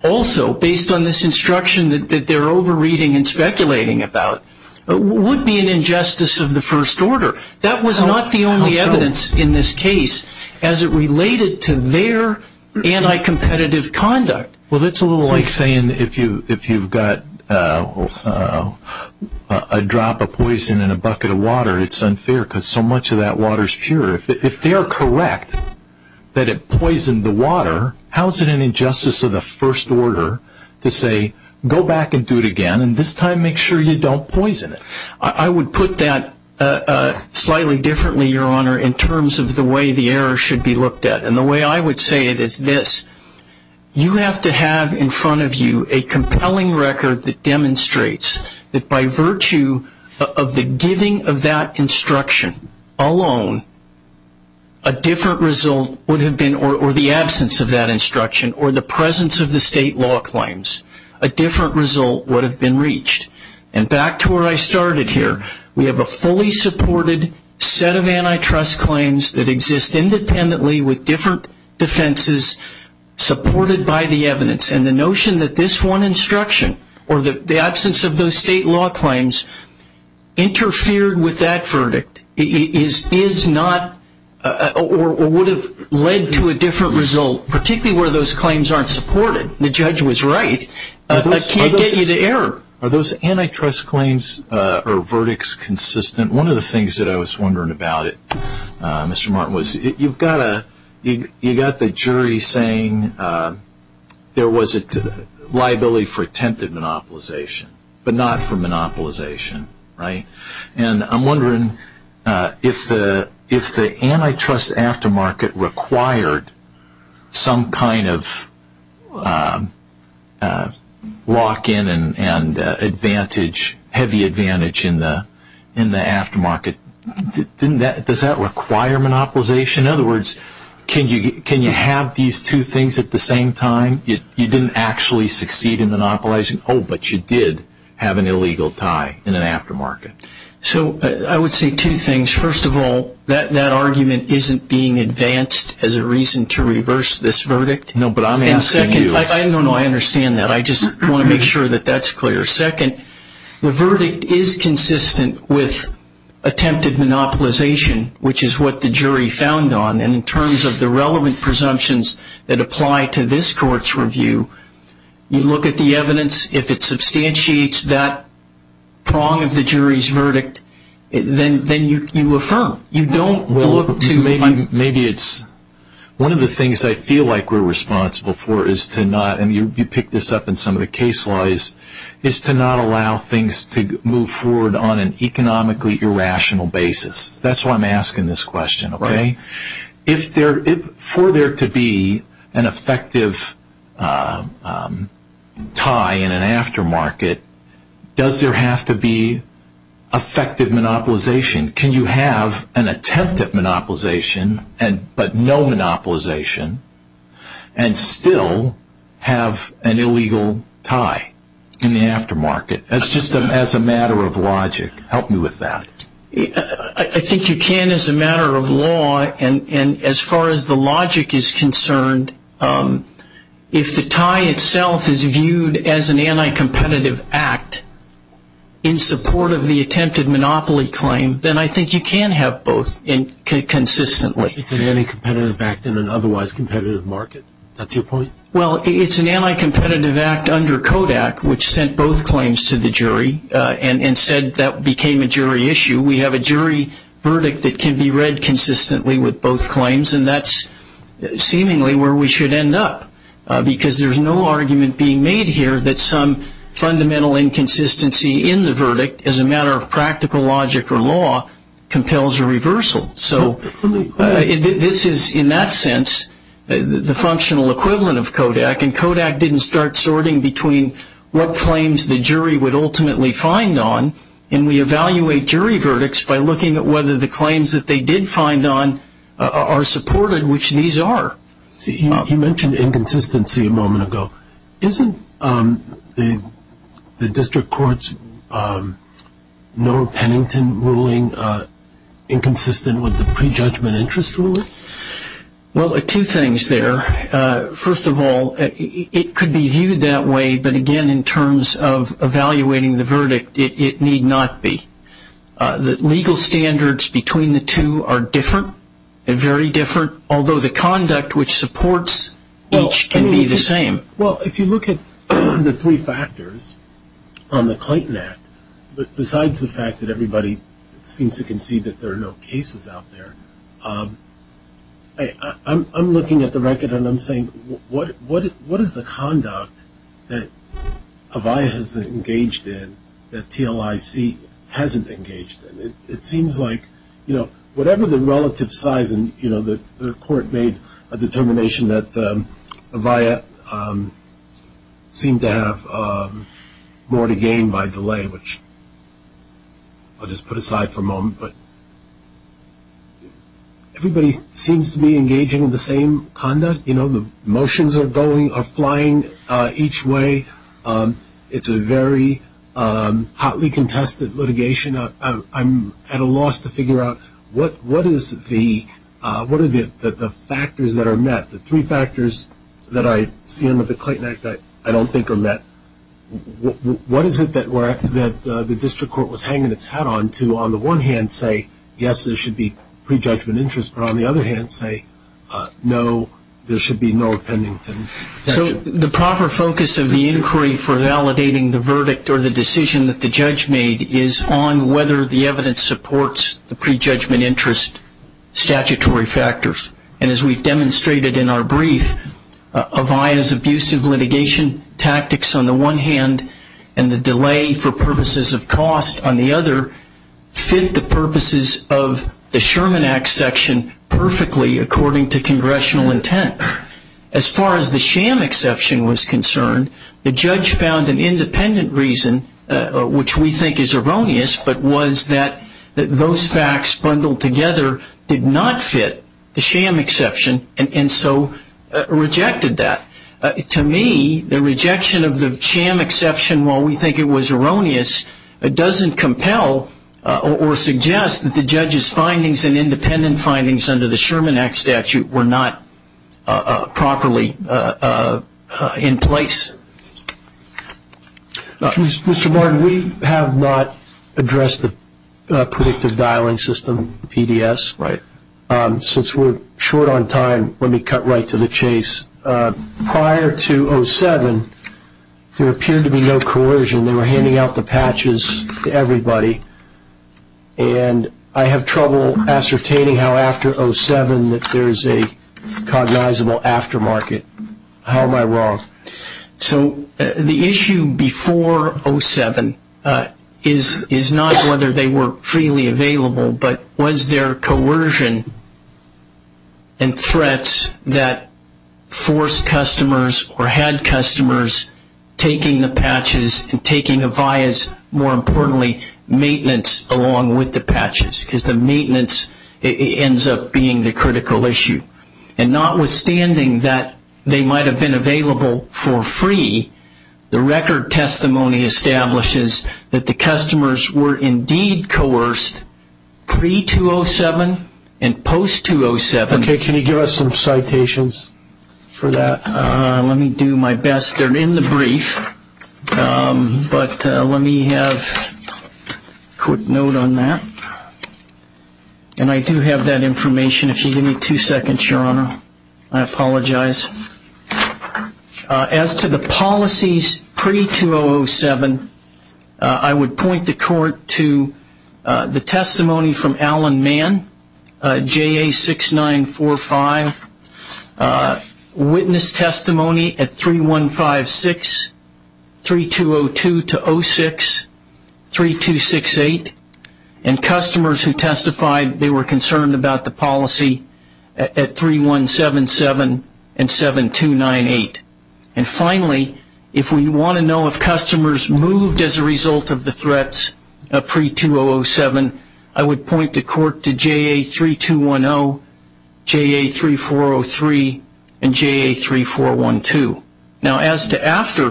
also based on this instruction that they're over-reading and speculating about, would be an injustice of the first order. That was not the only evidence in this case as it related to their anti-competitive conduct. Well, it's a little like saying if you've got a drop of poison in a bucket of water, it's unfair because so much of that water is pure. If they are correct that it poisoned the water, how is it an injustice of the first order to say, go back and do it again, and this time make sure you don't poison it? I would put that slightly differently, Your Honor, in terms of the way the error should be looked at. And the way I would say it is this. You have to have in front of you a compelling record that demonstrates that by virtue of the giving of that instruction alone, a different result would have been, or the absence of that instruction, or the presence of the state law claims, a different result would have been reached. And back to where I started here. We have a fully supported set of antitrust claims that exist independently with different defenses supported by the evidence. And the notion that this one instruction or the absence of those state law claims interfered with that verdict is not or would have led to a different result, particularly where those claims aren't supported. The judge was right. I can't get you to error. Are those antitrust claims or verdicts consistent? One of the things that I was wondering about, Mr. Martin, was you've got the jury saying there was a liability for attempted monopolization, but not for monopolization, right? And I'm wondering if the antitrust aftermarket required some kind of lock-in and advantage, heavy advantage in the aftermarket, does that require monopolization? In other words, can you have these two things at the same time? You didn't actually succeed in monopolizing, oh, but you did have an illegal tie in an aftermarket. So I would say two things. First of all, that argument isn't being advanced as a reason to reverse this verdict. No, but I'm asking you. And second, I don't know how I understand that. I just want to make sure that that's clear. Second, the verdict is consistent with attempted monopolization, which is what the jury found on. And in terms of the relevant presumptions that apply to this court's review, you look at the evidence. If it substantiates that prong of the jury's verdict, then you affirm. You don't look to maybe it's one of the things I feel like we're responsible for is to not, and you picked this up in some of the case laws, is to not allow things to move forward on an economically irrational basis. That's why I'm asking this question, okay? For there to be an effective tie in an aftermarket, does there have to be effective monopolization? Can you have an attempted monopolization but no monopolization and still have an illegal tie in the aftermarket? That's just as a matter of logic. Help me with that. I think you can as a matter of law, and as far as the logic is concerned, if the tie itself is viewed as an anti-competitive act in support of the attempted monopoly claim, then I think you can have both consistently. It's an anti-competitive act in an otherwise competitive market. That's your point? Well, it's an anti-competitive act under Kodak, which sent both claims to the jury and said that became a jury issue. We have a jury verdict that can be read consistently with both claims, and that's seemingly where we should end up, because there's no argument being made here that some fundamental inconsistency in the verdict, as a matter of practical logic or law, compels a reversal. So this is, in that sense, the functional equivalent of Kodak, and Kodak didn't start sorting between what claims the jury would ultimately find on, and we evaluate jury verdicts by looking at whether the claims that they did find on are supported, which these are. You mentioned inconsistency a moment ago. Isn't the district court's Noah Pennington ruling inconsistent with the prejudgment interest ruling? Well, two things there. First of all, it could be viewed that way, but, again, in terms of evaluating the verdict, it need not be. The legal standards between the two are different, very different, although the conduct which supports each can be the same. Well, if you look at the three factors on the Clayton Act, besides the fact that everybody seems to concede that there are no cases out there, I'm looking at the record and I'm saying, what is the conduct that Avaya has engaged in that TLIC hasn't engaged in? It seems like, you know, whatever the relative size, and, you know, the court made a determination that Avaya seemed to have more to gain by delay, which I'll just put aside for a moment, but everybody seems to be engaging in the same conduct. You know, the motions are going, are flying each way. It's a very hotly contested litigation. I'm at a loss to figure out what is the factors that are met, the three factors that I see under the Clayton Act that I don't think are met. What is it that the district court was hanging its hat on to on the one hand say, yes, there should be prejudgment interest, but on the other hand say, no, there should be no opinions? The proper focus of the inquiry for validating the verdict or the decision that the judge made is on whether the evidence supports the prejudgment interest statutory factors. And as we've demonstrated in our brief, Avaya's abusive litigation tactics on the one hand and the delay for purposes of cost on the other fit the purposes of the Sherman Act section perfectly according to congressional intent. As far as the sham exception was concerned, the judge found an independent reason, which we think is erroneous, but was that those facts bundled together did not fit. The sham exception and so rejected that. To me, the rejection of the sham exception, while we think it was erroneous, doesn't compel or suggest that the judge's findings and independent findings under the Sherman Act statute were not properly in place. Mr. Martin, we have not addressed the predictive dialing system, PDS. Since we're short on time, let me cut right to the chase. Prior to 07, there appeared to be no coercion. They were handing out the patches to everybody, and I have trouble ascertaining how after 07 that there's a cognizable aftermarket. How am I wrong? The issue before 07 is not whether they were freely available, but was there coercion and threats that forced customers or had customers taking the patches and taking the vias, more importantly, maintenance along with the patches, because the maintenance ends up being the critical issue. Notwithstanding that they might have been available for free, the record testimony establishes that the customers were indeed coerced pre-207 and post-207. Can you give us some citations for that? Let me do my best. They're in the brief, but let me have a quick note on that. I do have that information. If you give me two seconds, Your Honor, I apologize. As to the policies pre-2007, I would point the court to the testimony from Alan Mann, JA6945, witness testimony at 3156, 3202-06, 3268, and customers who testified they were concerned about the policy at 3177 and 7298. Finally, if we want to know if customers moved as a result of the threats pre-2007, I would point the court to JA3210, JA3403, and JA3412. Now, as to after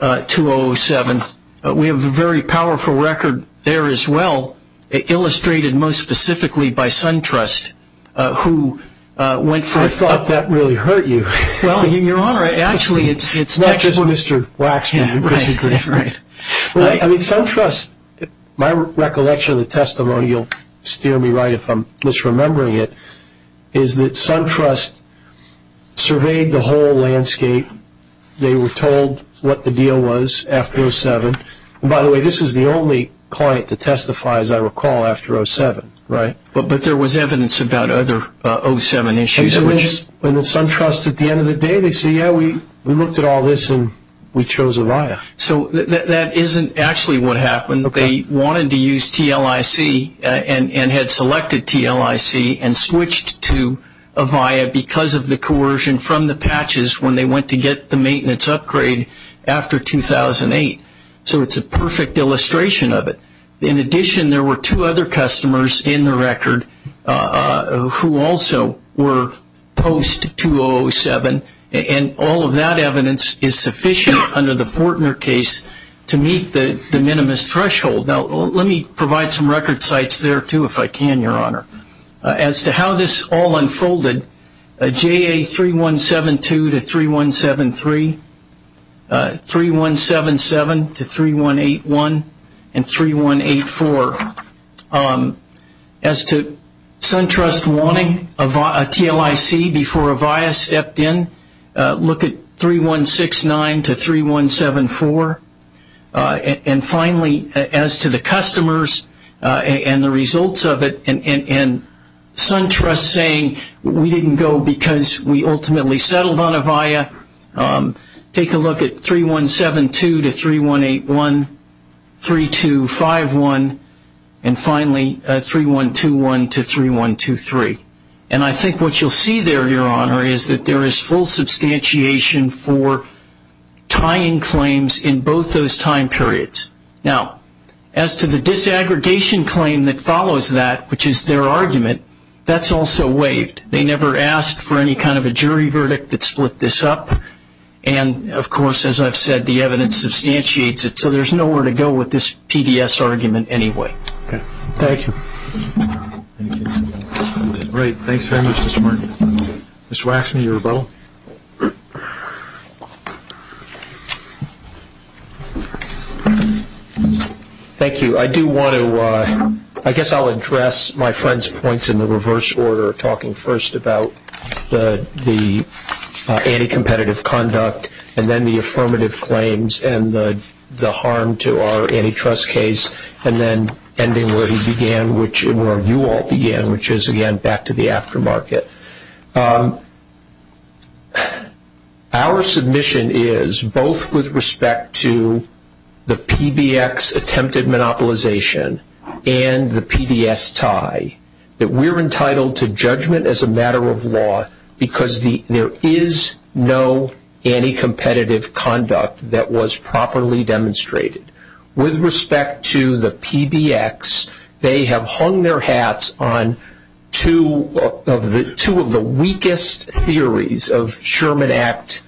2007, we have a very powerful record there as well, illustrated most specifically by SunTrust, who went from the- I thought that really hurt you. No, Your Honor. Actually, it's not just Mr. Waxman. I mean, SunTrust, my recollection of the testimony, you'll steer me right if I'm misremembering it, is that SunTrust surveyed the whole landscape. They were told what the deal was after 2007. By the way, this is the only client to testify, as I recall, after 2007, right? But there was evidence about other 2007 issues. And the SunTrust, at the end of the day, they say, yeah, we looked at all this and we chose ARIA. So that isn't actually what happened. They wanted to use TLIC and had selected TLIC and switched to ARIA because of the coercion from the patches when they went to get the maintenance upgrade after 2008. So it's a perfect illustration of it. In addition, there were two other customers in the record who also were post-2007, and all of that evidence is sufficient under the Portner case to meet the minimus threshold. Now, let me provide some record sites there, too, if I can, Your Honor. As to how this all unfolded, JA 3172 to 3173, 3177 to 3181, and 3184. As to SunTrust wanting a TLIC before Avaya stepped in, look at 3169 to 3174. And finally, as to the customers and the results of it and SunTrust saying, we didn't go because we ultimately settled on Avaya, take a look at 3172 to 3181, 3251. And finally, 3121 to 3123. And I think what you'll see there, Your Honor, is that there is full substantiation for tying claims in both those time periods. Now, as to the disaggregation claim that follows that, which is their argument, that's also waived. They never asked for any kind of a jury verdict that split this up. And, of course, as I've said, the evidence substantiates it. So there's nowhere to go with this PDS argument anyway. Thank you. Great. Thanks very much, Mr. Martin. Mr. Rafferty, are you available? Thank you. I guess I'll address my friend's points in the reverse order, talking first about the anti-competitive conduct and then the affirmative claims and the harm to our antitrust case, and then ending where he began and where you all began, which is, again, back to the aftermarket. Our submission is, both with respect to the PBX attempted monopolization and the PDS tie, that we're entitled to judgment as a matter of law because there is no anti-competitive conduct that was properly demonstrated. With respect to the PBX, they have hung their hats on two of the weakest theories of Sherman Act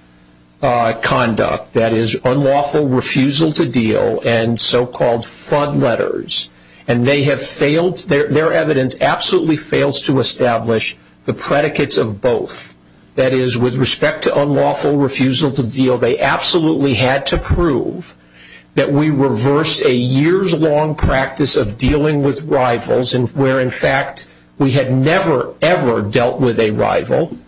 conduct, that is, unlawful refusal to deal and so-called fraud letters. And their evidence absolutely fails to establish the predicates of both. That is, with respect to unlawful refusal to deal, they absolutely had to prove that we reverse a years-long practice of dealing with rivals, where, in fact, we had never, ever dealt with a rival.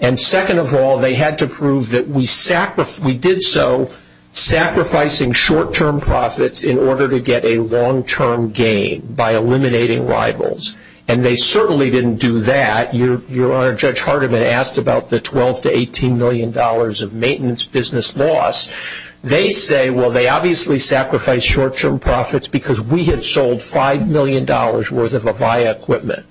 And second of all, they had to prove that we did so, sacrificing short-term profits in order to get a long-term gain by eliminating rivals. And they certainly didn't do that. Your Honor, Judge Hardiman asked about the $12 million to $18 million of maintenance business loss. They say, well, they obviously sacrificed short-term profits because we had sold $5 million worth of Avaya equipment.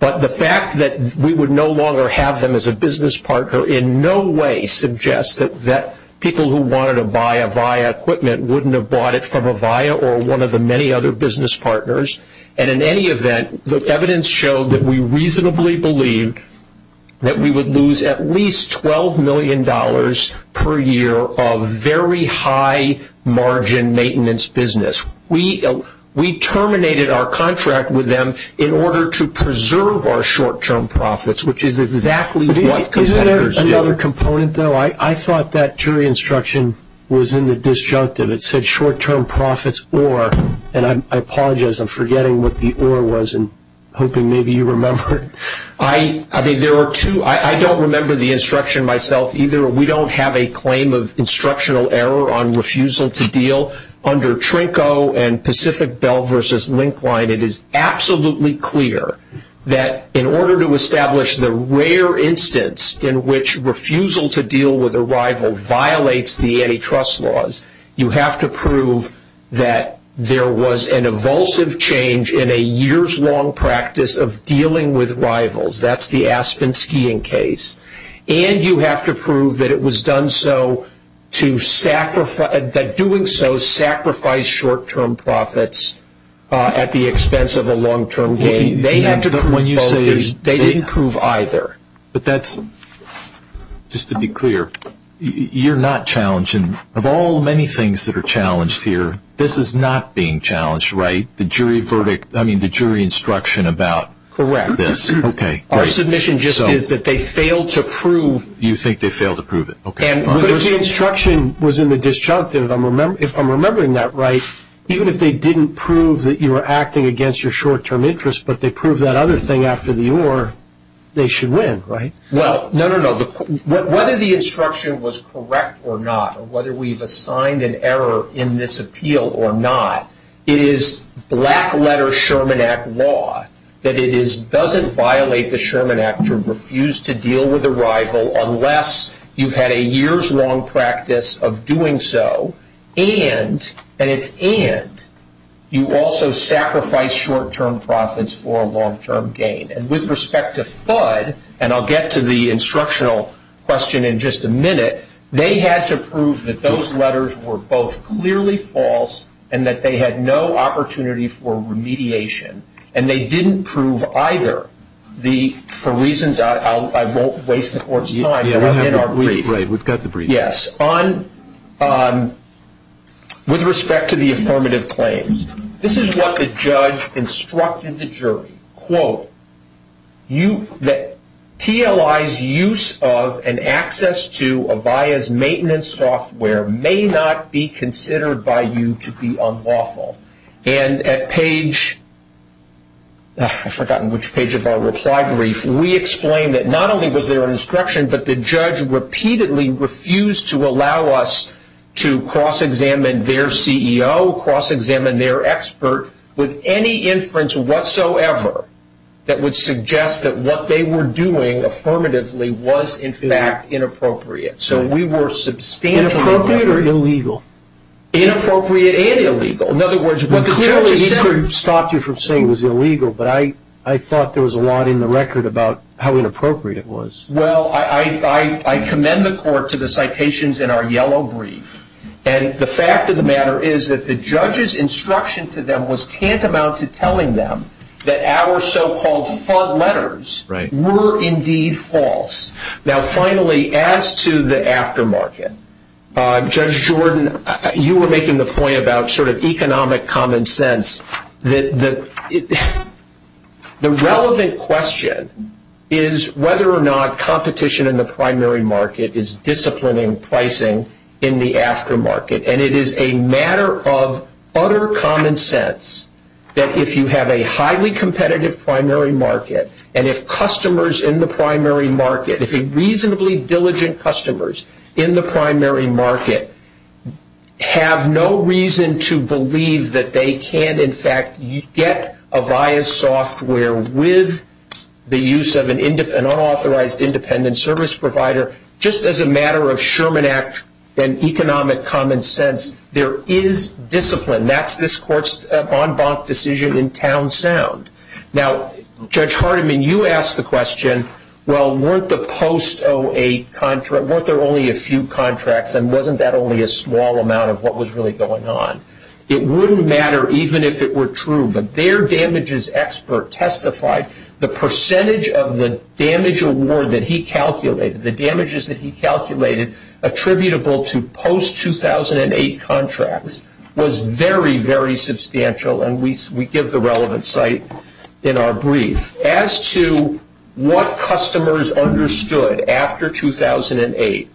But the fact that we would no longer have them as a business partner in no way suggests that people who wanted to buy Avaya equipment wouldn't have bought it from Avaya or one of the many other business partners. And in any event, the evidence showed that we reasonably believed that we would lose at least $12 million per year of very high-margin maintenance business. We terminated our contract with them in order to preserve our short-term profits, which is exactly what consumers do. Is there another component, though? I thought that jury instruction was in the disjunctive. It said short-term profits or, and I apologize. I'm forgetting what the or was and hoping maybe you remember it. I think there are two. I don't remember the instruction myself either. We don't have a claim of instructional error on refusal to deal. Under Trinco and Pacific Bell versus Linkline, it is absolutely clear that in order to establish the rare instance in which refusal to deal with a rival violates the antitrust laws, you have to prove that there was an evulsive change in a years-long practice of dealing with rivals. That's the Aspen skiing case. And you have to prove that it was done so to, that doing so sacrificed short-term profits at the expense of a long-term gain. They didn't prove either. But that's, just to be clear, you're not challenged. And of all the many things that are challenged here, this is not being challenged, right? The jury verdict, I mean, the jury instruction about this. Correct. Okay. Our submission just is that they failed to prove. You think they failed to prove it. Okay. But the instruction was in the disjunctive. If I'm remembering that right, even if they didn't prove that you were acting against your short-term interest, but they proved that other thing after the or, they should win, right? Well, no, no, no. Whether the instruction was correct or not, whether we've assigned an error in this appeal or not, it is black-letter Sherman Act law that it doesn't violate the Sherman Act to refuse to deal with a rival unless you've had a year's long practice of doing so and, and if and, you also sacrifice short-term profits for a long-term gain. And with respect to FUD, and I'll get to the instructional question in just a minute, they had to prove that those letters were both clearly false and that they had no opportunity for remediation. And they didn't prove either. The, for reasons I, I won't waste the court's time. Right, we've got the brief. Yes. On, on, with respect to the affirmative claims, this is what the judge instructed the jury. Quote, you, TLI's use of and access to Avaya's maintenance software may not be considered by you to be unlawful. And at page, I've forgotten which page of our reply brief, we explain that not only was there an instruction, but the judge repeatedly refused to allow us to cross-examine their CEO, cross-examine their expert, with any inference whatsoever that would suggest that what they were doing affirmatively was in fact inappropriate. So we were substantially. Inappropriate or illegal? In other words, what the judge. Clearly he never stopped you from saying it was illegal, but I, I thought there was a lot in the record about how inappropriate it was. Well, I, I, I commend the court to the citations in our yellow brief. And the fact of the matter is that the judge's instruction to them was tantamount to telling them that our so-called FUD letters. Right. Were indeed false. Now, finally, as to the aftermarket. Judge Jordan, you were making the point about sort of economic common sense. The relevant question is whether or not competition in the primary market is disciplining pricing in the aftermarket. And it is a matter of utter common sense that if you have a highly competitive primary market, and if customers in the primary market, if reasonably diligent customers in the primary market have no reason to believe that they can, in fact, get Avaya software with the use of an unauthorized independent service provider, just as a matter of Sherman Act and economic common sense, there is discipline. That's this court's en banc decision in town sound. Now, Judge Hardiman, you asked the question, well, weren't the post-08 contract, weren't there only a few contracts and wasn't that only a small amount of what was really going on? It wouldn't matter even if it were true, but their damages expert testified the percentage of the damage award that he calculated, the damages that he calculated attributable to post-2008 contracts was very, very substantial. And we give the relevant site in our brief. As to what customers understood after 2008,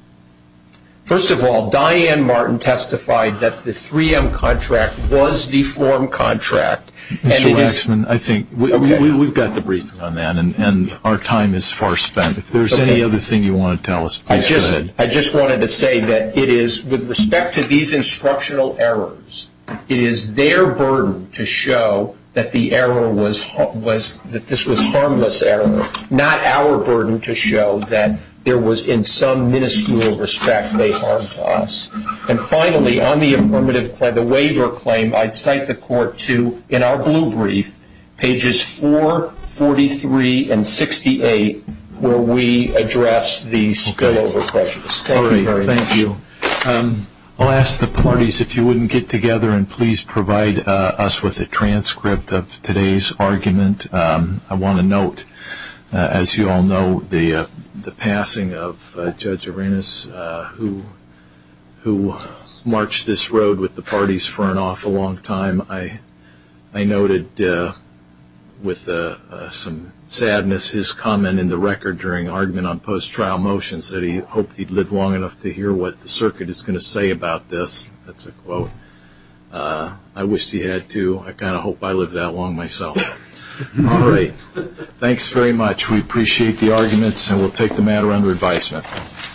first of all, Diane Martin testified that the 3M contract was the form contract. Mr. Waxman, I think we've got the briefing on that, and our time is far spent. If there's any other thing you want to tell us, please go ahead. I just wanted to say that it is, with respect to these instructional errors, it is their burden to show that the error was, that this was harmless error, not our burden to show that there was, in some miniscule respect, they harmed us. And finally, on the affirmative, the waiver claim, I'd cite the court to, in our blue brief, pages 4, 43, and 68, where we address these failover questions. Thank you. I'll ask the parties, if you wouldn't get together and please provide us with a transcript of today's argument. I want to note, as you all know, the passing of Judge Arenas, who marched this road with the parties for an awful long time. I noted, with some sadness, his comment in the record during the argument on post-trial motions, that he hoped he'd live long enough to hear what the circuit is going to say about this. That's a quote. I wish he had to. I kind of hope I live that long myself. All right. Thanks very much. We appreciate the arguments, and we'll take the matter under advisement.